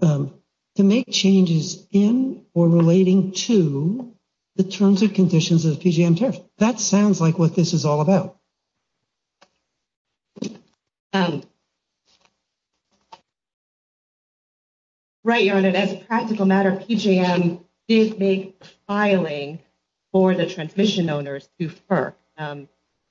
to make changes in or relating to the terms and conditions of the PJM tariff. That sounds like what this is all about. Right. You're on it. As a practical matter, PJM is filing for the transition owners to her.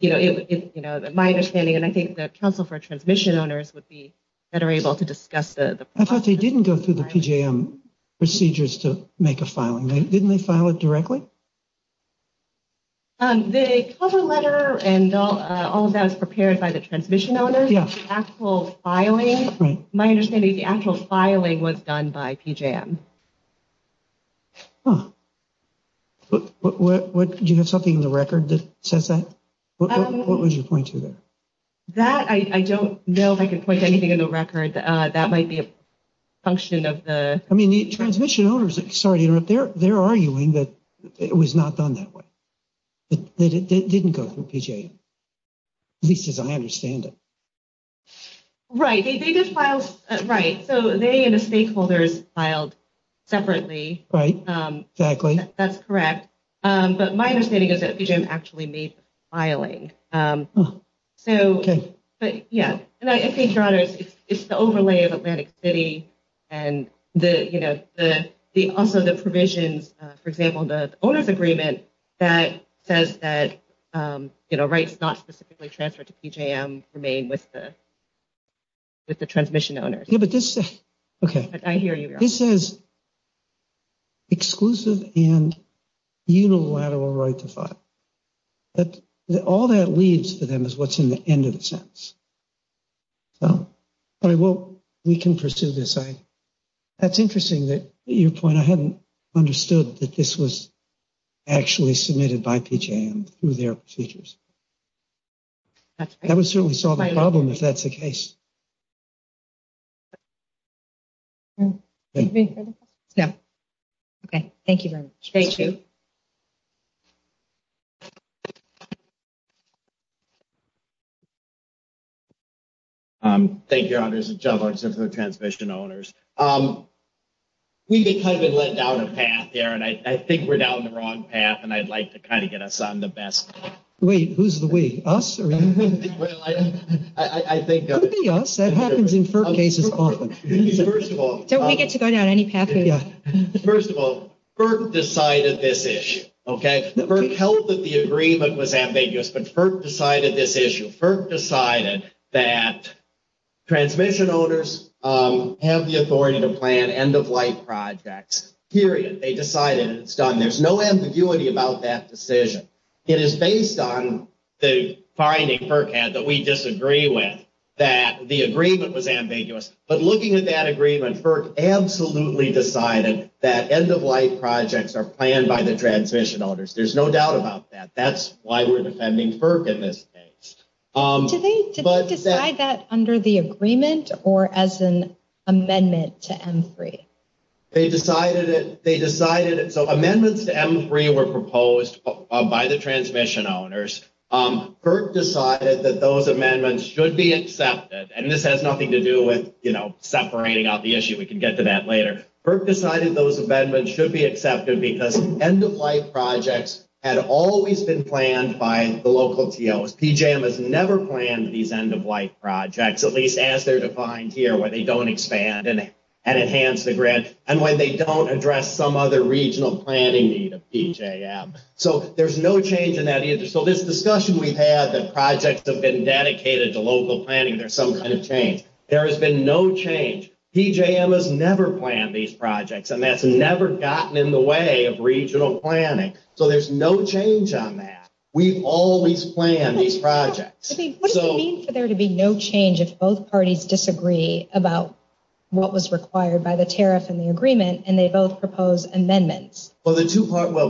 You know, it's, you know, that my understanding, and I think that council for transmission owners would be better able to discuss the, I thought they didn't go through the PJM procedures to make a filing. Right. Didn't they file it directly? The cover letter and all of that is prepared by the transmission owners. Actual filing. My understanding, the actual filing was done by PJM. Oh, do you have something in the record that says that? What was your point to that? That I don't know if I could put anything in the record that might be a function of the, I mean, the transmission owners, sorry, they're arguing that it was not done that way. It didn't go through PJM. At least as I understand it. Right. They just filed. Right. So they, and the stakeholders filed separately. Right. Exactly. That's correct. But my understanding is that PJM actually made the filing. So, but yeah, and I think you're on it. It's the overlay of Atlantic city and the, you know, the, also the provision, for example, the owner's agreement that says that, you know, rights not specifically transferred to PJM remain with the, with the transmission owners. Yeah, but this, okay. I hear you. This is exclusive and unilateral right to file. But all that leads to them is what's in the end of the sentence. So I will, we can pursue this. Okay. That's interesting that your point, I haven't understood that this was actually submitted by PJM through their features. That would certainly solve the problem. If that's the case. Yeah. Okay. Thank you. Thank you. Thank you. Transmission owners. We can kind of let down a path there and I think we're down the wrong path. And I'd like to kind of get us on the best way. Who's the way us? I think that happens in certain cases. First of all, we get to go down any path. First of all, the side of this issue. Okay. First, the first held that the agreement was ambiguous, but first decided this issue first decided that. Transmission owners have the authority to plan end of life projects. Period. They decided it's done. There's no ambiguity about that decision. It is based on the finding that we disagree with that the agreement was ambiguous. But looking at that agreement first, Absolutely. Deciding that end of life projects are planned by the transition owners. There's no doubt about that. That's why we're depending on the agreement or as an amendment to M3. They decided it. They decided it. So amendments to M3 were proposed by the transmission owners. Kirk decided that those amendments should be accepted. And this has nothing to do with, you know, separating out the issue. We can get to that later. Kirk decided those amendments should be accepted because end of life projects had always been planned by the local TOS. PJM has never planned these end of life projects, at least as they're defined here, where they don't expand and enhance the grid. And when they don't address some other regional planning need of PJM. So there's no change in that issue. So this discussion we've had that projects have been dedicated to local planning. There's something to change. There has been no change. PJM has never planned these projects and that's never gotten in the way of regional planning. So there's no change on that. We've always planned these projects. What does it mean for there to be no change if both parties disagree about what was required by the tariff and the agreement and they both propose amendments? Well,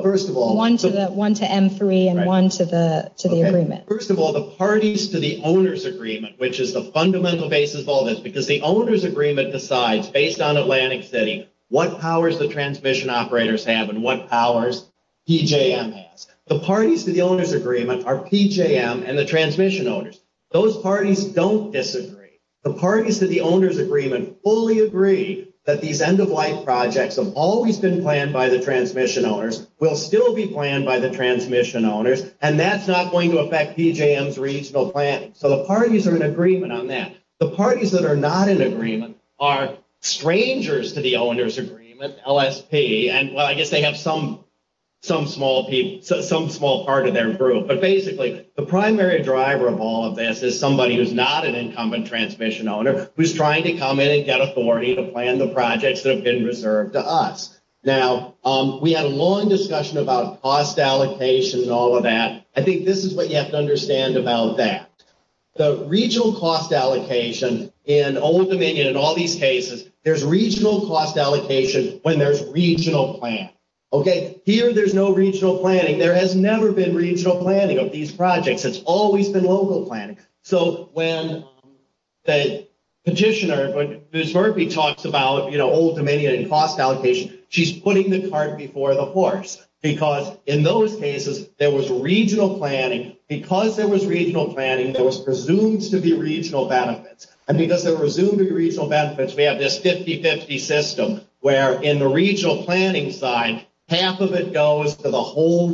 first of all. One to M3 and one to the agreement. First of all, the parties to the owner's agreement, which is the fundamental basis of all this, because the owner's agreement decides based on Atlantic City what powers the transmission operators have and what powers PJM has. The parties to the owner's agreement are PJM and the transmission owners. Those parties don't disagree. The parties to the owner's agreement fully agree that these end of life projects have always been planned by the transmission owners, will still be planned by the transmission owners, and that's not going to affect PJM's regional planning. So the parties are in agreement on that. The parties that are not in agreement are strangers to the owner's agreement, LSP, and I guess they have some small part of their group. But basically, the primary driver of all of this is somebody who's not an incumbent transmission owner, who's trying to come in and get authority to plan the projects that have been reserved to us. Now, we had a long discussion about cost allocation and all of that. I think this is what you have to understand about that. The regional cost allocation in Old Dominion and all these cases, there's regional cost allocation when there's regional planning. Okay, here there's no regional planning. There has never been regional planning of these projects. It's always been local planning. So when the petitioner, Ms. Murphy, talks about, you know, Old Dominion and cost allocation, she's putting the cart before the horse because in those cases, there was regional planning. Because there was regional planning, there was presumed to be regional benefits, and because there were presumed to be regional benefits, we have this 50-50 system where in the regional planning side, half of it goes to the whole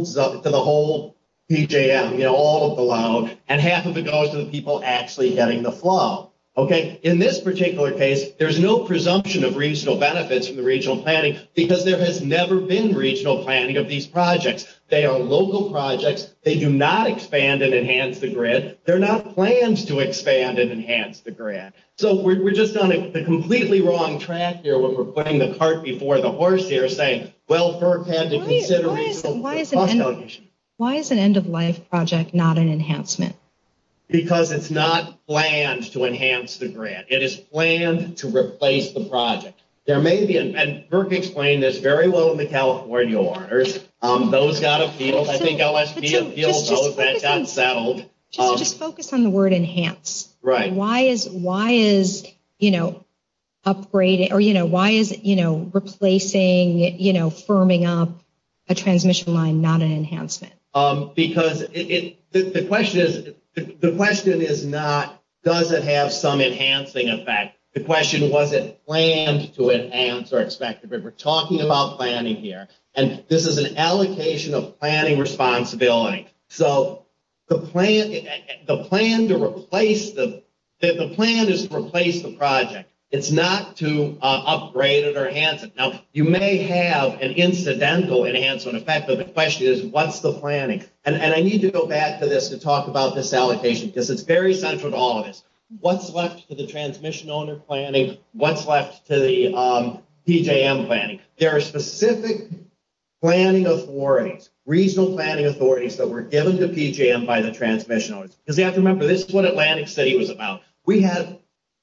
PJM, you know, all of the loans, and half of it goes to the people actually getting the flow. Okay, in this particular case, there's no presumption of regional benefits in the regional planning because there has never been regional planning of these projects. They are local projects. They do not expand and enhance the grid. They're not plans to expand and enhance the grid. So we're just on the completely wrong track here where we're putting the cart before the horse here saying, well, FERC had to consider regional cost allocation. Why is an end-of-life project not an enhancement? Because it's not planned to enhance the grid. It is planned to replace the project. There may be, and Murphy explained this very well in the California Waters. Those got a feel. I think OSB appeals to those that got settled. So just focus on the word enhance. Right. And why is, you know, replacing, you know, firming up a transmission line not an enhancement? Because the question is not, does it have some enhancing effect? The question was, is it planned to enhance or expect to? But we're talking about planning here. And this is an allocation of planning responsibility. So the plan is to replace the project. It's not to upgrade it or enhance it. Now, you may have an incidental enhancement. In fact, the question is, what's the planning? And I need to go back to this to talk about this allocation because it's very central to all of this. What's left to the transmission owner planning? What's left to the PJM planning? There are specific planning authorities, regional planning authorities that were given to PJM by the transmission owners. Because they have to remember, this is what Atlantic City was about. We had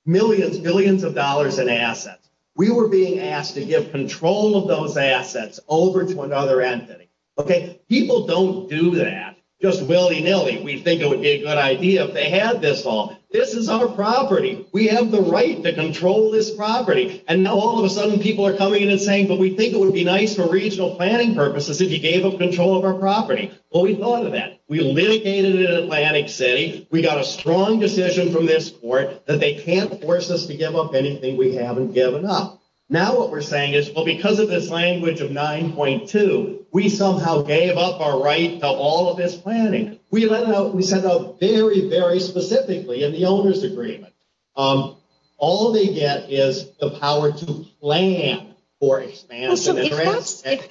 millions, millions of dollars in assets. We were being asked to give control of those assets over to another entity. Okay. People don't do that just willy-nilly. We think it would be a good idea if they had this all. This is our property. We have the right to control this property. And all of a sudden, people are coming in and saying, but we think it would be nice for regional planning purposes if you gave us control of our property. Well, we thought of that. We litigated it at Atlantic City. We got a strong decision from this court that they can't force us to give up anything we haven't given up. Now what we're saying is, well, because of this language of 9.2, we somehow gave up our right to all of this planning. We sent out very, very specifically in the owner's agreement. All they get is the power to plan for expansion and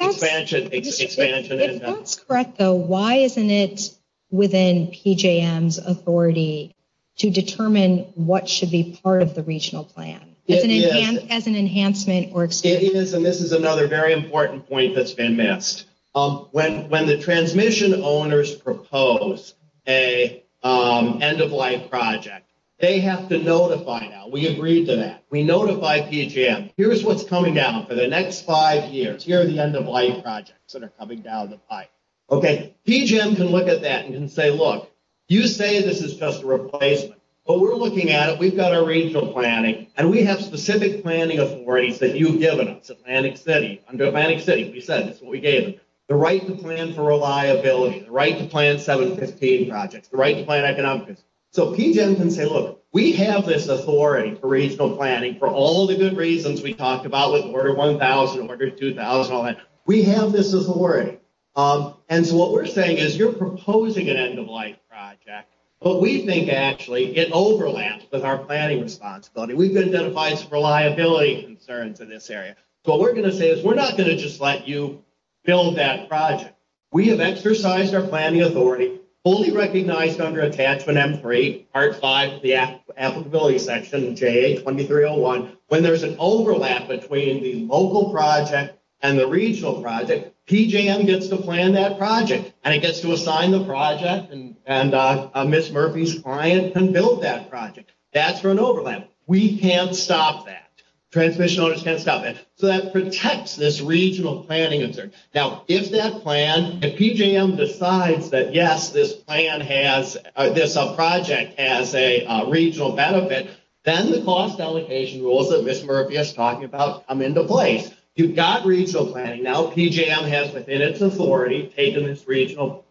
expansion. If that's correct, though, why isn't it within PJM's authority to determine what should be part of the regional plan as an enhancement or extension? It is, and this is another very important point that's been missed. When the transmission owners propose an end-of-life project, they have to notify now. We agree to that. We notify PJM. Here's what's coming down for the next five years. Here are the end-of-life projects that are coming down the pipe. Okay. PJM can look at that and can say, look, you say this is just a replacement, but we're looking at it. We've got our regional planning, and we have specific planning authorities that you've given us, Atlantic City. Under Atlantic City, we said this is what we gave them. The right to plan for reliability, the right to plan 715 projects, the right to plan economically. So PJM can say, look, we have this authority for regional planning for all the good reasons we talked about with Order 1000, Order 2000, all that. We have this authority. And so what we're saying is you're proposing an end-of-life project, but we think actually it overlaps with our planning responsibility. We've identified some reliability concerns in this area. So what we're going to say is we're not going to just let you build that project. We have exercised our planning authority, fully recognized under Attachment M3, Part 5, the applicability section, JA2301. When there's an overlap between the local project and the regional project, PJM gets to plan that project, and it gets to assign the project and Ms. Murphy's clients can build that project. That's for an overlap. We can't stop that. Transmission owners can't stop it. So that protects this regional planning concern. Now, if that plan, if PJM decides that, yes, this plan has, this project has a regional benefit, then the cost allocation rules that Ms. Murphy is talking about come into play. You've got regional planning. Now PJM has, within its authority, taken this regional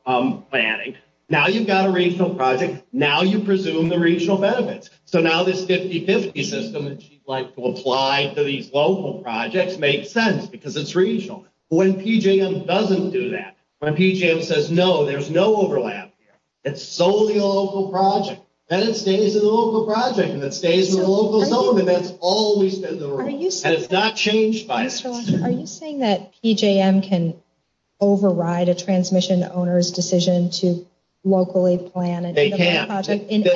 planning. Now you've got a regional project. Now you presume the regional benefits. So now this 50-50 system that you'd like to apply to these local projects makes sense because it's regional. When PJM doesn't do that, when PJM says, no, there's no overlap here, it's solely a local project, then it stays a local project, and it stays with a local zone, and that's always been the rule. It's not changed by it. Are you saying that PJM can override a transmission owner's decision to locally plan a project in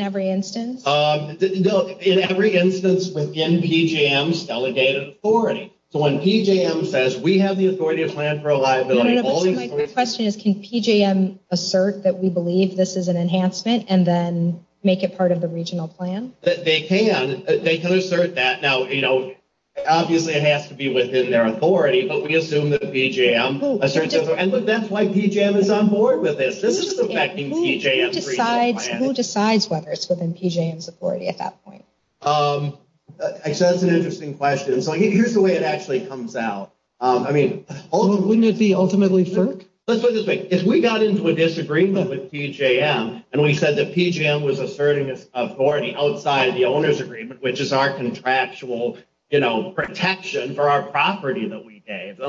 every instance? No, in every instance within PJM's delegated authority. So when PJM says, we have the authority to plan for a liability. My question is, can PJM assert that we believe this is an enhancement and then make it part of the regional plan? They can. They can assert that. Now, you know, obviously it has to be within their authority, but we assume that PJM asserts it. And that's why PJM is on board with this. This is affecting PJM's regional planning. Who decides whether it's within PJM's authority at that point? That's an interesting question. So here's the way it actually comes out. I mean, wouldn't it be ultimately cert? Let's put it this way. If we got into a disagreement with PJM and we said that PJM was asserting authority outside the owner's agreement, which is our contractual, you know, protection for our property that we gave,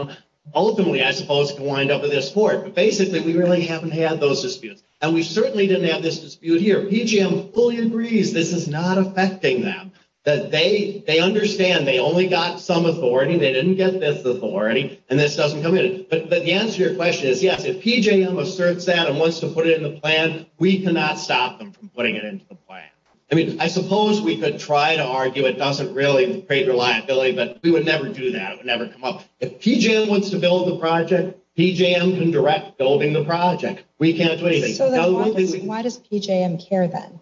ultimately I suppose we wind up in this court. But basically we really haven't had those disputes. And we certainly didn't have this dispute here. PJM fully agrees this is not affecting them, that they understand they only got some authority, they didn't get this authority, and this doesn't come in. But the answer to your question is, yes, if PJM asserts that and wants to put it in the plan, we cannot stop them from putting it into the plan. I mean, I suppose we could try to argue it doesn't really create reliability, but we would never do that. It would never come up. If PJM wants to build the project, PJM can direct building the project. We can't do anything. Why does PJM care then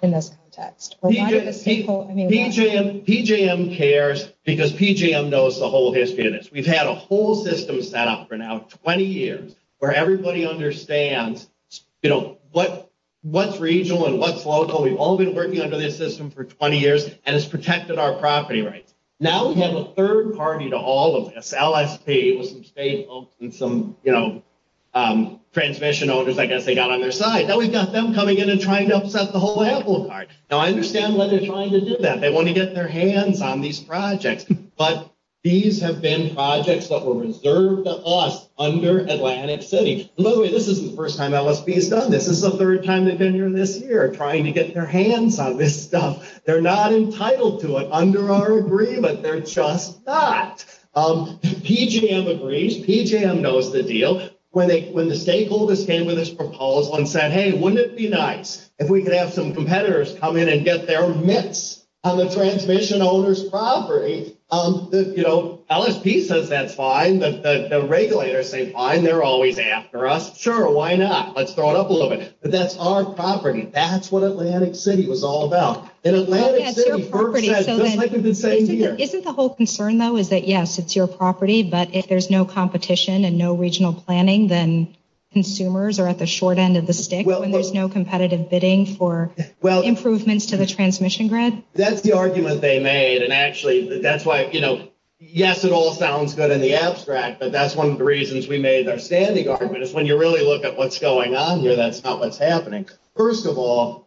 in this context? PJM cares because PJM knows the whole history of this. We've had a whole system set up for now 20 years where everybody understands, you know, what's regional and what's local. We've all been working under this system for 20 years, and it's protected our property rights. Now we have a third party to all of this, LSP, with some space bumps and some, you know, transmission owners I guess they got on their side. Now we've got them coming in and trying to upset the whole apple cart. Now I understand why they're trying to do that. They want to get their hands on these projects. But these have been projects that were reserved to us under Atlantic City. By the way, this isn't the first time LSP has done this. This is the third time they've been here this year trying to get their hands on this stuff. They're not entitled to it under our agreement. They're just not. PJM agrees. PJM knows the deal. When the stakeholders came to this proposal and said, hey, wouldn't it be nice if we could have some competitors come in and get their mitts on the transmission owner's property, you know, LSP says that's fine, but the regulators say, fine, they're always after us. Sure, why not? Let's throw it up a little bit. But that's our property. That's what Atlantic City was all about. Isn't the whole concern, though, is that, yes, it's your property, but if there's no competition and no regional planning, then consumers are at the short end of the stick when there's no competitive bidding for improvements to the transmission grid? That's the argument they made, and actually that's why, you know, yes, it all sounds good in the abstract, but that's one of the reasons we made our standing argument is when you really look at what's going on here, that's not what's happening. First of all,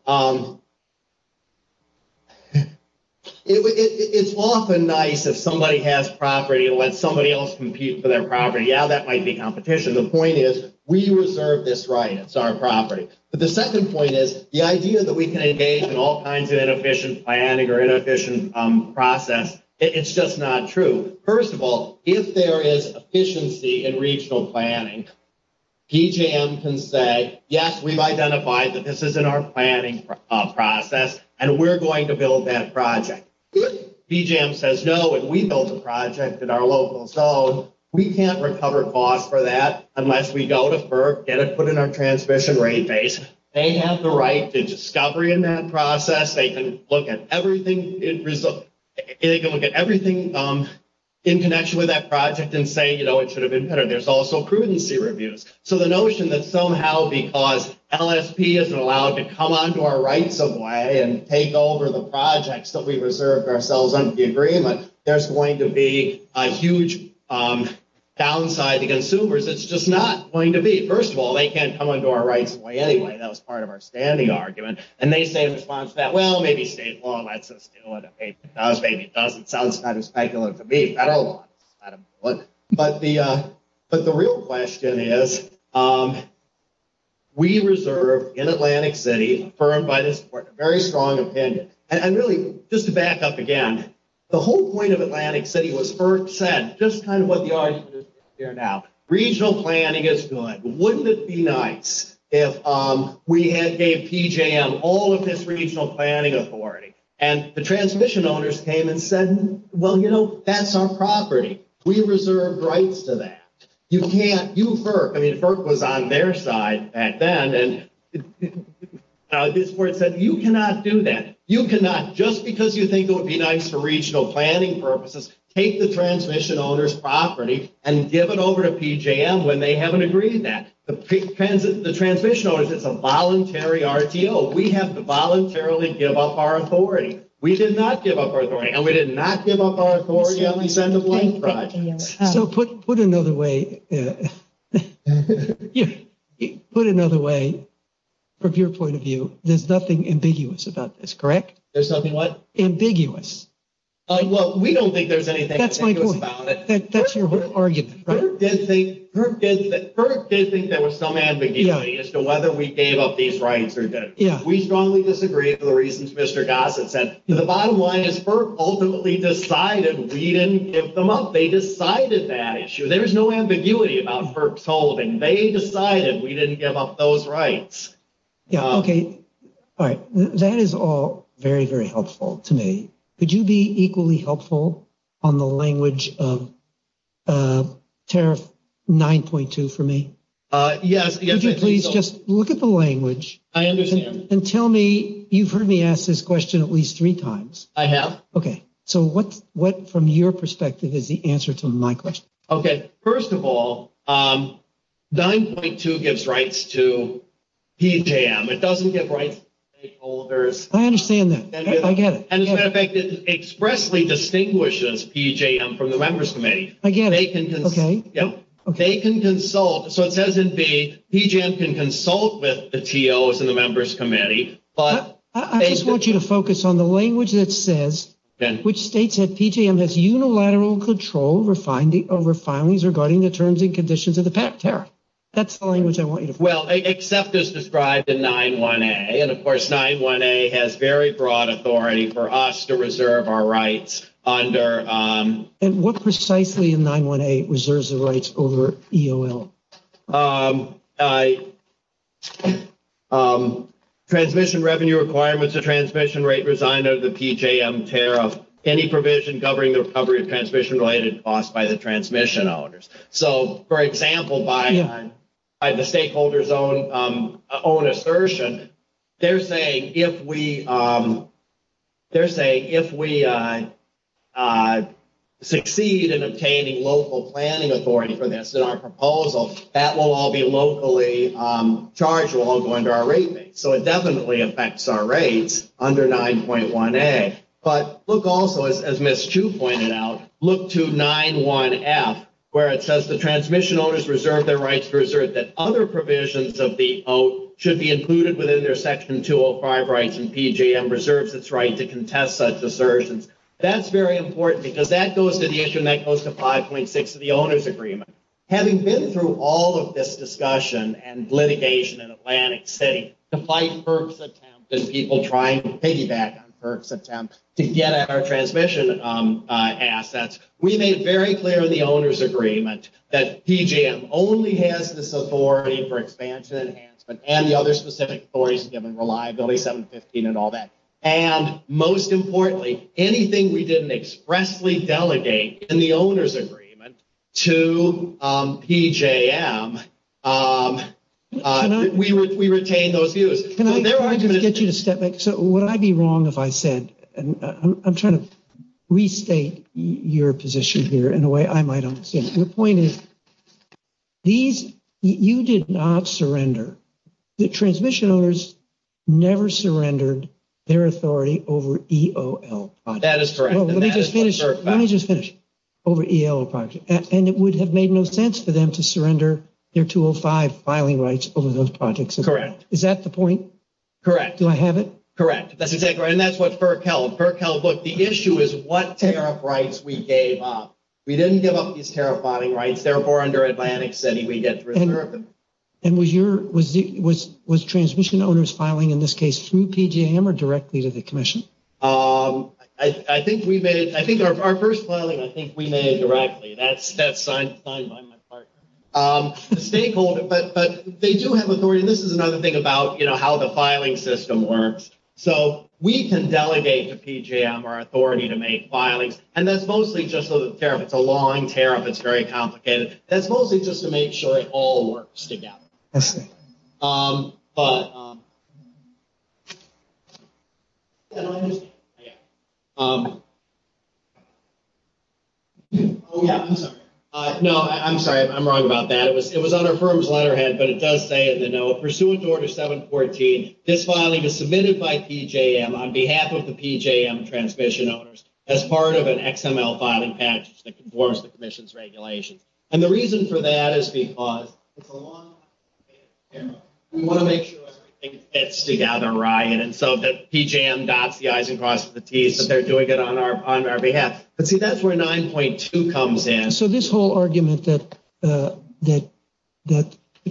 it's often nice if somebody has property and lets somebody else compete for their property. Yeah, that might be competition. The point is we reserve this right. It's our property. But the second point is the idea that we can engage in all kinds of inefficient planning or inefficient process, it's just not true. First of all, if there is efficiency in regional planning, DGM can say, yes, we've identified that this is in our planning process and we're going to build that project. If DGM says no and we build the project in our local zone, we can't recover costs for that unless we go to FERC, get it put in our transmission rate base. They have the right to discovery in that process. They can look at everything in connection with that project and say, you know, it should have been better. There's also prudency reviews. So the notion that somehow because LSP isn't allowed to come onto our rights of way and take over the projects that we reserved ourselves under the agreement, there's going to be a huge downside to consumers. It's just not going to be. First of all, they can't come onto our rights of way anyway. That was part of our standing argument. And they say in response to that, well, maybe state law lets us do it. Maybe it doesn't. It sounds kind of speculative to me. I don't know. But the real question is, we reserve in Atlantic City, confirmed by this report, a very strong opinion. And really, just to back up again, the whole point of Atlantic City was FERC said, just kind of what the audience is hearing now, regional planning is good. Wouldn't it be nice if we gave PJM all of this regional planning authority? And the transmission owners came and said, well, you know, that's our property. We reserved rights to that. You can't. You, FERC. I mean, FERC was on their side back then. And this report said, you cannot do that. You cannot, just because you think it would be nice for regional planning purposes, take the transmission owners' property and give it over to PJM when they haven't agreed to that. The transmission owners, it's a voluntary RTO. We have to voluntarily give up our authority. We did not give up our authority. And we did not give up our authority on the Blank Project. So put another way, from your point of view, there's nothing ambiguous about this, correct? There's nothing what? Ambiguous. Well, we don't think there's anything ambiguous about this. FERC did think there was some ambiguity as to whether we gave up these rights or didn't. We strongly disagree with the reasons Mr. Gossett said. The bottom line is FERC ultimately decided we didn't give them up. They decided that issue. There's no ambiguity about FERC's holding. They decided we didn't give up those rights. Okay. All right. That is all very, very helpful to me. Could you be equally helpful on the language of tariff 9.2 for me? Yes. Could you please just look at the language. I understand. And tell me, you've heard me ask this question at least three times. I have. Okay. So what, from your perspective, is the answer to my question? Okay. First of all, 9.2 gives rights to PJM. It doesn't give rights to stakeholders. I understand that. I get it. As a matter of fact, it expressly distinguishes PJM from the Members Committee. I get it. Okay. Yep. They can consult. So it doesn't mean PJM can consult with the TOs and the Members Committee. I just want you to focus on the language that says, which states that PJM has unilateral control over filings regarding the terms and conditions of the PAC tariff. That's the language I want you to focus on. Well, EXCEPT is described in 9.1a. And, of course, 9.1a has very broad authority for us to reserve our rights under. And what precisely in 9.1a reserves the rights over EOL? Transmission revenue requirements of transmission rate resigned under the PJM tariff. Any provision governing the recovery of transmission-related costs by the transmission owners. So, for example, by the stakeholders' own assertion, they're saying if we succeed in obtaining local planning authority for this in our proposal, that will all be locally charged, will all go into our rate base. So it definitely affects our rates under 9.1a. But look also, as Ms. Chu pointed out, look to 9.1f, where it says the transmission owners reserve their rights to assert that other provisions of the oath should be included within their Section 205 rights and PJM reserves its right to contest such assertions. That's very important because that goes to the issue and that goes to 5.6 of the owner's agreement. Having been through all of this discussion and litigation in Atlantic City to fight piggyback on Kirk's attempt to get at our transmission assets, we made very clear in the owner's agreement that PJM only has this authority for expansion and enhancement and the other specific authorities given reliability, 715 and all that. And most importantly, anything we didn't expressly delegate in the owner's agreement to PJM, we retained those views. So would I be wrong if I said, I'm trying to restate your position here in a way I might understand. The point is, you did not surrender. The transmission owners never surrendered their authority over EOL projects. That is correct. Let me just finish. Over EOL projects. And it would have made no sense for them to surrender their 205 filing rights over those projects. Correct. Is that the point? Correct. Do I have it? Correct. And that's what Kirk held. The issue is what tariff rights we gave up. We didn't give up these tariff body rights. Therefore, under Atlantic City, we get rid of them. And was transmission owners filing in this case through PJM or directly to the commission? I think our first filing, I think we made it directly. That's signed by my partner. But they do have authority. This is another thing about how the filing system works. So we can delegate to PJM our authority to make filings. And that's mostly just for the tariff. It's a long tariff. It's very complicated. That's mostly just to make sure it all works together. I'm sorry. No, I'm sorry. I'm wrong about that. It was on our firm's letterhead. But it does say it in the note. Pursuant to Order 714, this filing is submitted by PJM on behalf of the PJM transmission owners as part of an XML filing package that conforms to the commission's regulations. And the reason for that is because it's a long tariff. And we want to make sure everything fits together right. And so that PJM dots the i's and crosses the t's as they're doing it on our behalf. But see, that's where 9.2 comes in. So this whole argument that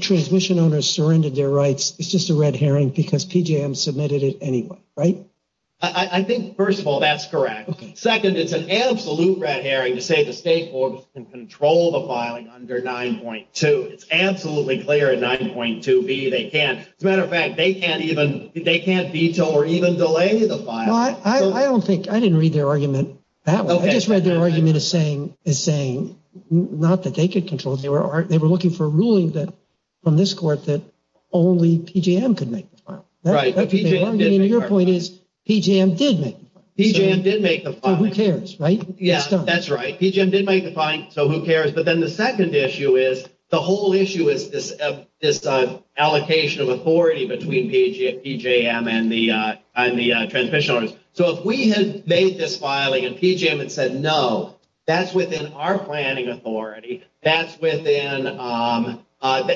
transmission owners surrendered their rights is just a red herring because PJM submitted it anyway, right? I think, first of all, that's correct. Second, it's an absolute red herring to say the State Board can control the filing under 9.2. It's absolutely clear in 9.2b they can't. As a matter of fact, they can't veto or even delay the file. I just read the argument as saying not that they could control it. They were looking for a ruling from this court that only PJM could make the file. Your point is PJM did make the file. PJM did make the file. So who cares, right? Yeah, that's right. PJM did make the file, so who cares. But then the second issue is the whole issue is this allocation of authority between PJM and the transmission owners. So if we had made this filing and PJM had said no, that's within our planning authority, that's within,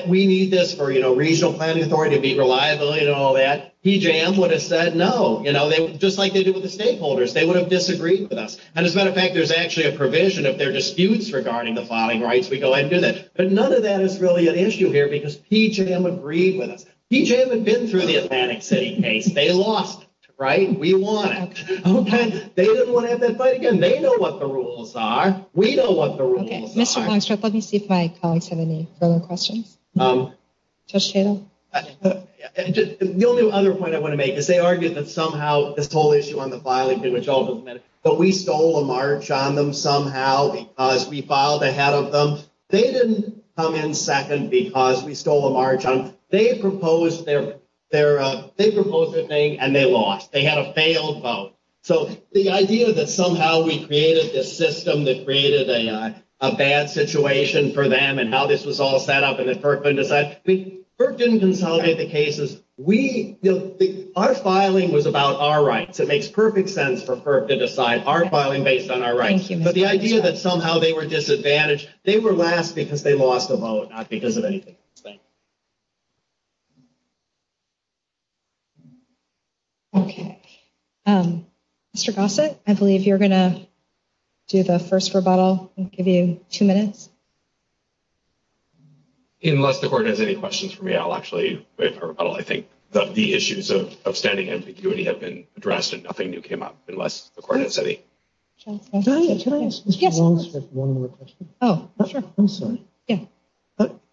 we need this for, you know, regional planning authority to be reliable and all that, PJM would have said no, you know, just like they did with the stakeholders. They would have disagreed with us. And as a matter of fact, there's actually a provision of their disputes regarding the filing rights. We go ahead and do this. But none of that is really an issue here because PJM agreed with us. PJM had been through the Atlantic City case. They lost, right? We won it. Okay. They didn't want to have that fight again. They know what the rules are. We know what the rules are. Okay. Mr. Blanchard, let me see if my colleagues have any further questions. No. Judge Cato? The only other point I want to make is they argued that somehow this whole issue on the filing, but we stole a march on them somehow because we filed ahead of them. They didn't come in second because we stole a march on them. They proposed their thing and they lost. They had a failed vote. So the idea that somehow we created this system that created a bad situation for them and how this was all set up and that FERC wouldn't decide. FERC didn't consolidate the cases. Our filing was about our rights. It makes perfect sense for FERC to decide our filing based on our rights. But the idea that somehow they were disadvantaged, they were last because they lost the vote, not because of anything. Okay. Mr. Gossett, I believe you're going to do the first rebuttal. I'll give you two minutes. Unless the court has any questions for me, I'll actually wait for a rebuttal. I think that the issues of standing ambiguity have been addressed and nothing new came up unless the court has any. Can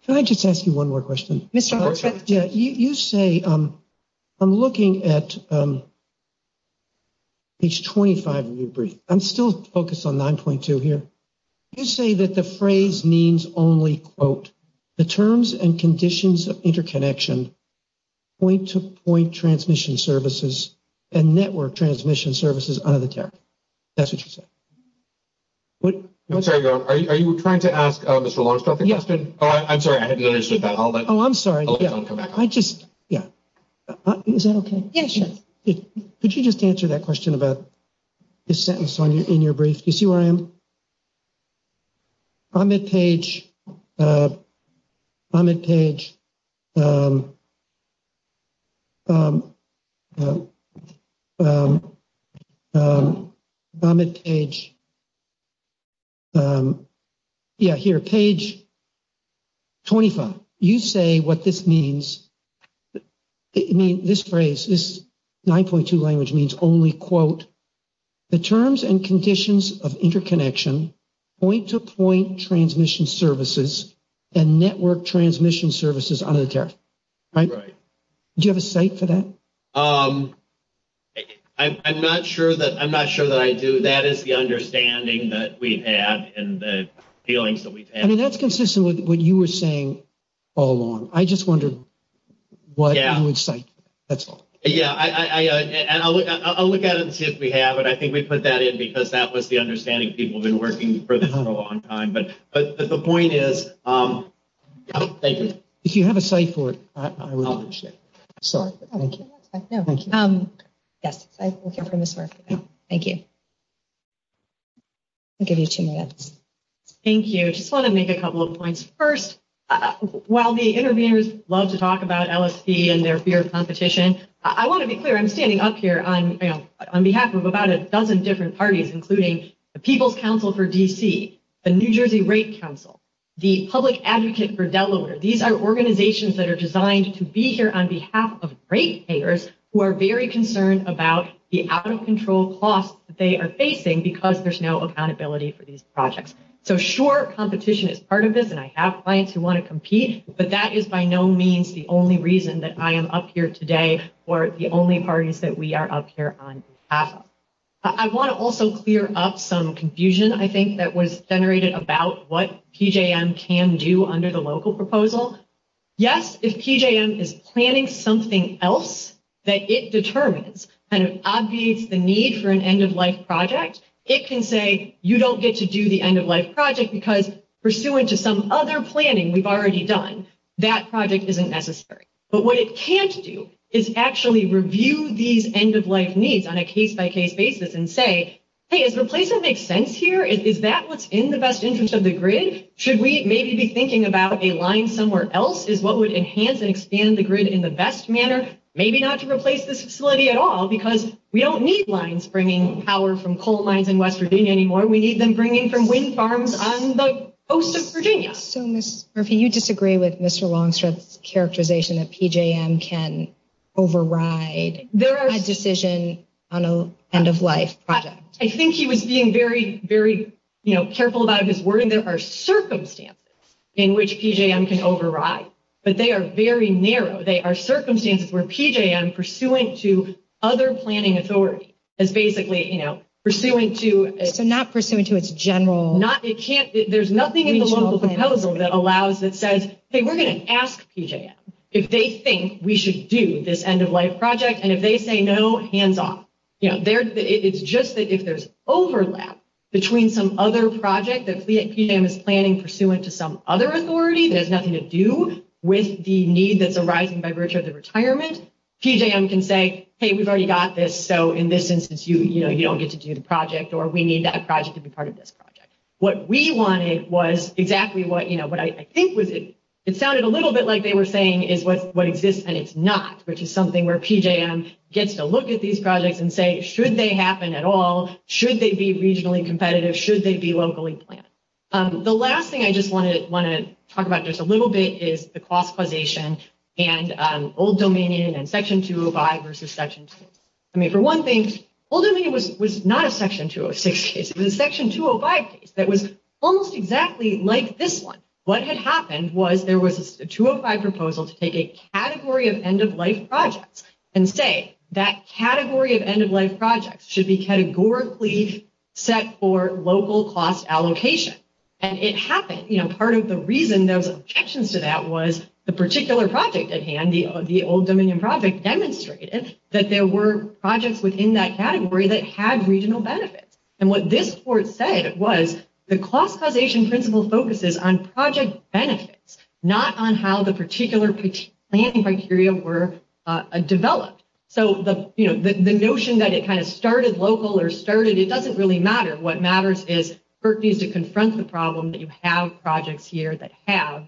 I just ask you one more question? You say, I'm looking at page 25 of your brief. I'm still focused on 9.2 here. You say that the phrase means only, quote, the terms and conditions of interconnection, point-to-point transmission services, and network transmission services under the tab. That's what you said. I'm sorry. Are you trying to ask Mr. Longstock? Yes. I'm sorry. Oh, I'm sorry. I just, yeah. Is that okay? Yes. Could you just answer that question about the sentence in your brief? Do you see where I am? I'm at page, I'm at page, I'm at page, yeah, here, page 25. You say what this means. I mean, this phrase, this 9.2 language means only, quote, the terms and conditions of interconnection, point-to-point transmission services, and network transmission services under the tab. Right. Do you have a site for that? I'm not sure that I do. That is the understanding that we've had and the feelings that we've had. I mean, that's consistent with what you were saying all along. I just wonder what you would say. Yeah. That's all. Yeah. And I'll look at it and see if we have it. I think we put that in because that was the understanding people have been working with for a long time. But the point is, thank you. If you have a site for it, I will understand. Sorry. Thank you. Yes, I'm looking for Ms. Murphy. Thank you. I'll give you two minutes. Thank you. I just want to make a couple of points. First, while the interviewers love to talk about LSP and their fear of competition, I want to be clear. I'm standing up here on behalf of about a dozen different parties, including the People's Council for D.C., the New Jersey Rape Council, the Public Advocate for Delaware. These are organizations that are designed to be here on behalf of rape payers who are very concerned about the out-of-control costs that they are facing because there's no accountability for these projects. So, sure, competition is part of this, and I have clients who want to compete, but that is by no means the only reason that I am up here today for the only parties that we are up here on behalf of. I want to also clear up some confusion, I think, that was generated about what PJM can do under the local proposal. Yes, if PJM is planning something else that it determines, and it obviates the need for an end-of-life project, it can say, you don't get to do the end-of-life project because pursuant to some other planning we've already done, that project isn't necessary. But what it can't do is actually review these end-of-life needs on a case-by-case basis and say, hey, is replacement makes sense here? Is that what's in the best interest of the grid? Should we maybe be thinking about a line somewhere else as what would enhance and expand the grid in the best manner? Maybe not to replace this facility at all because we don't need lines bringing power from coal mines in West Virginia anymore. We need them bringing from wind farms on the coast of Virginia. So, Ms. Murphy, you disagree with Mr. Longstrip's characterization that PJM can override a decision on an end-of-life project? I think he was being very, very careful about his wording. There are circumstances in which PJM can override, but they are very narrow. They are circumstances where PJM pursuant to other planning authority is basically, you know, pursuant to... So not pursuant to its general... Not, it can't, there's nothing in the local proposal that allows, that says, hey, we're going to ask PJM if they think we should do this end-of-life project. And if they say no, hands off. You know, it's just that if there's overlap between some other project that PJM is planning pursuant to some other authority, there's nothing to do with the need that the project is arising by virtue of the retirement. PJM can say, hey, we've already got this, so in this instance, you know, you don't get to do the project or we need that project to be part of this project. What we wanted was exactly what, you know, what I think would be... It sounded a little bit like they were saying is what exists and it's not, which is something where PJM gets to look at these projects and say, should they happen at all? Should they be regionally competitive? Should they be locally planned? The last thing I just want to talk about just a little bit is the cost causation and Old Dominion and Section 205 versus Section 206. I mean, for one thing, Old Dominion was not a Section 206 case. It was a Section 205 case that was almost exactly like this one. What had happened was there was a 205 proposal to take a category of end-of-life projects and say that category of end-of-life projects should be categorically set for local cost allocation. And it happened. You know, part of the reason there was objections to that was the particular project at hand, the Old Dominion project, demonstrated that there were projects within that category that had regional benefits. And what this court said was the cost causation principle focuses on project benefits, not on how the particular planning criteria were developed. So, you know, the notion that it kind of started local or started... It doesn't really matter. What matters is FERC needs to confront the problem that you have projects here that have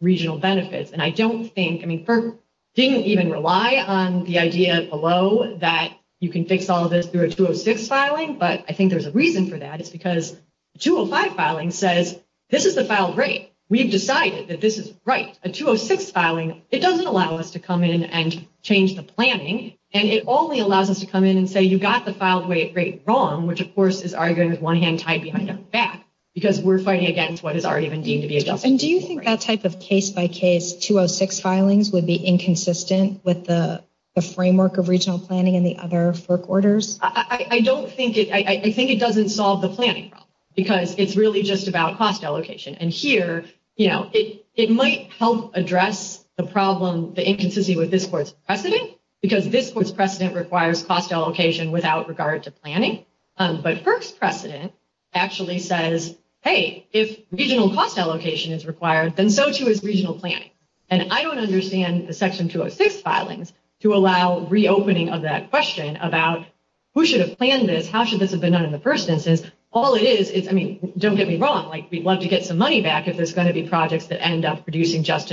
regional benefits. And I don't think... I mean, FERC didn't even rely on the idea below that you can fix all of this through a 206 filing, but I think there's a reason for that. It's because the 205 filing says, this is the filed rate. We've decided that this is right. A 206 filing, it doesn't allow us to come in and change the planning, and it only allows us to come in and say, you've got the filed rate rate wrong, which, of course, is arguing with one hand tied behind the back, because we're fighting against what has already been deemed to be adjusted. And do you think that type of case-by-case 206 filings would be inconsistent with the framework of regional planning and the other FERC orders? I don't think it... I think it doesn't solve the planning problem, because it's really just about cost allocation. And here, you know, it might help address the problem, the inconsistency with this court's precedent, because this court's precedent requires cost allocation without regard to planning, but FERC's precedent actually says, hey, if regional cost allocation is required, then so too is regional planning. And I don't understand the Section 206 filings to allow reopening of that question about who should have planned this, how should this have been done in the first instance. All it is is, I mean, don't get me wrong, like, we'd love to get some money back if there's going to be projects that end up producing unjust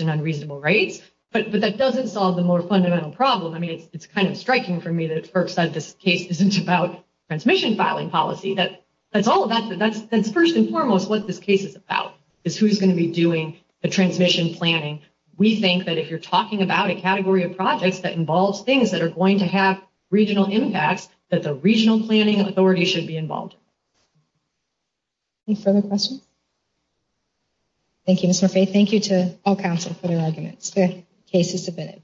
and unreasonable rates, but that doesn't solve the more fundamental problem. I mean, it's kind of striking for me that FERC says this case isn't about transmission filing policy. That's all about... That's first and foremost what this case is about, is who's going to be doing the transmission planning. We think that if you're talking about a category of projects that involves things that are going to have regional impact, that the regional planning authority should be involved. Any further questions? Thank you, Ms. Murphy. And I say thank you to all counsel for their arguments. The case is submitted.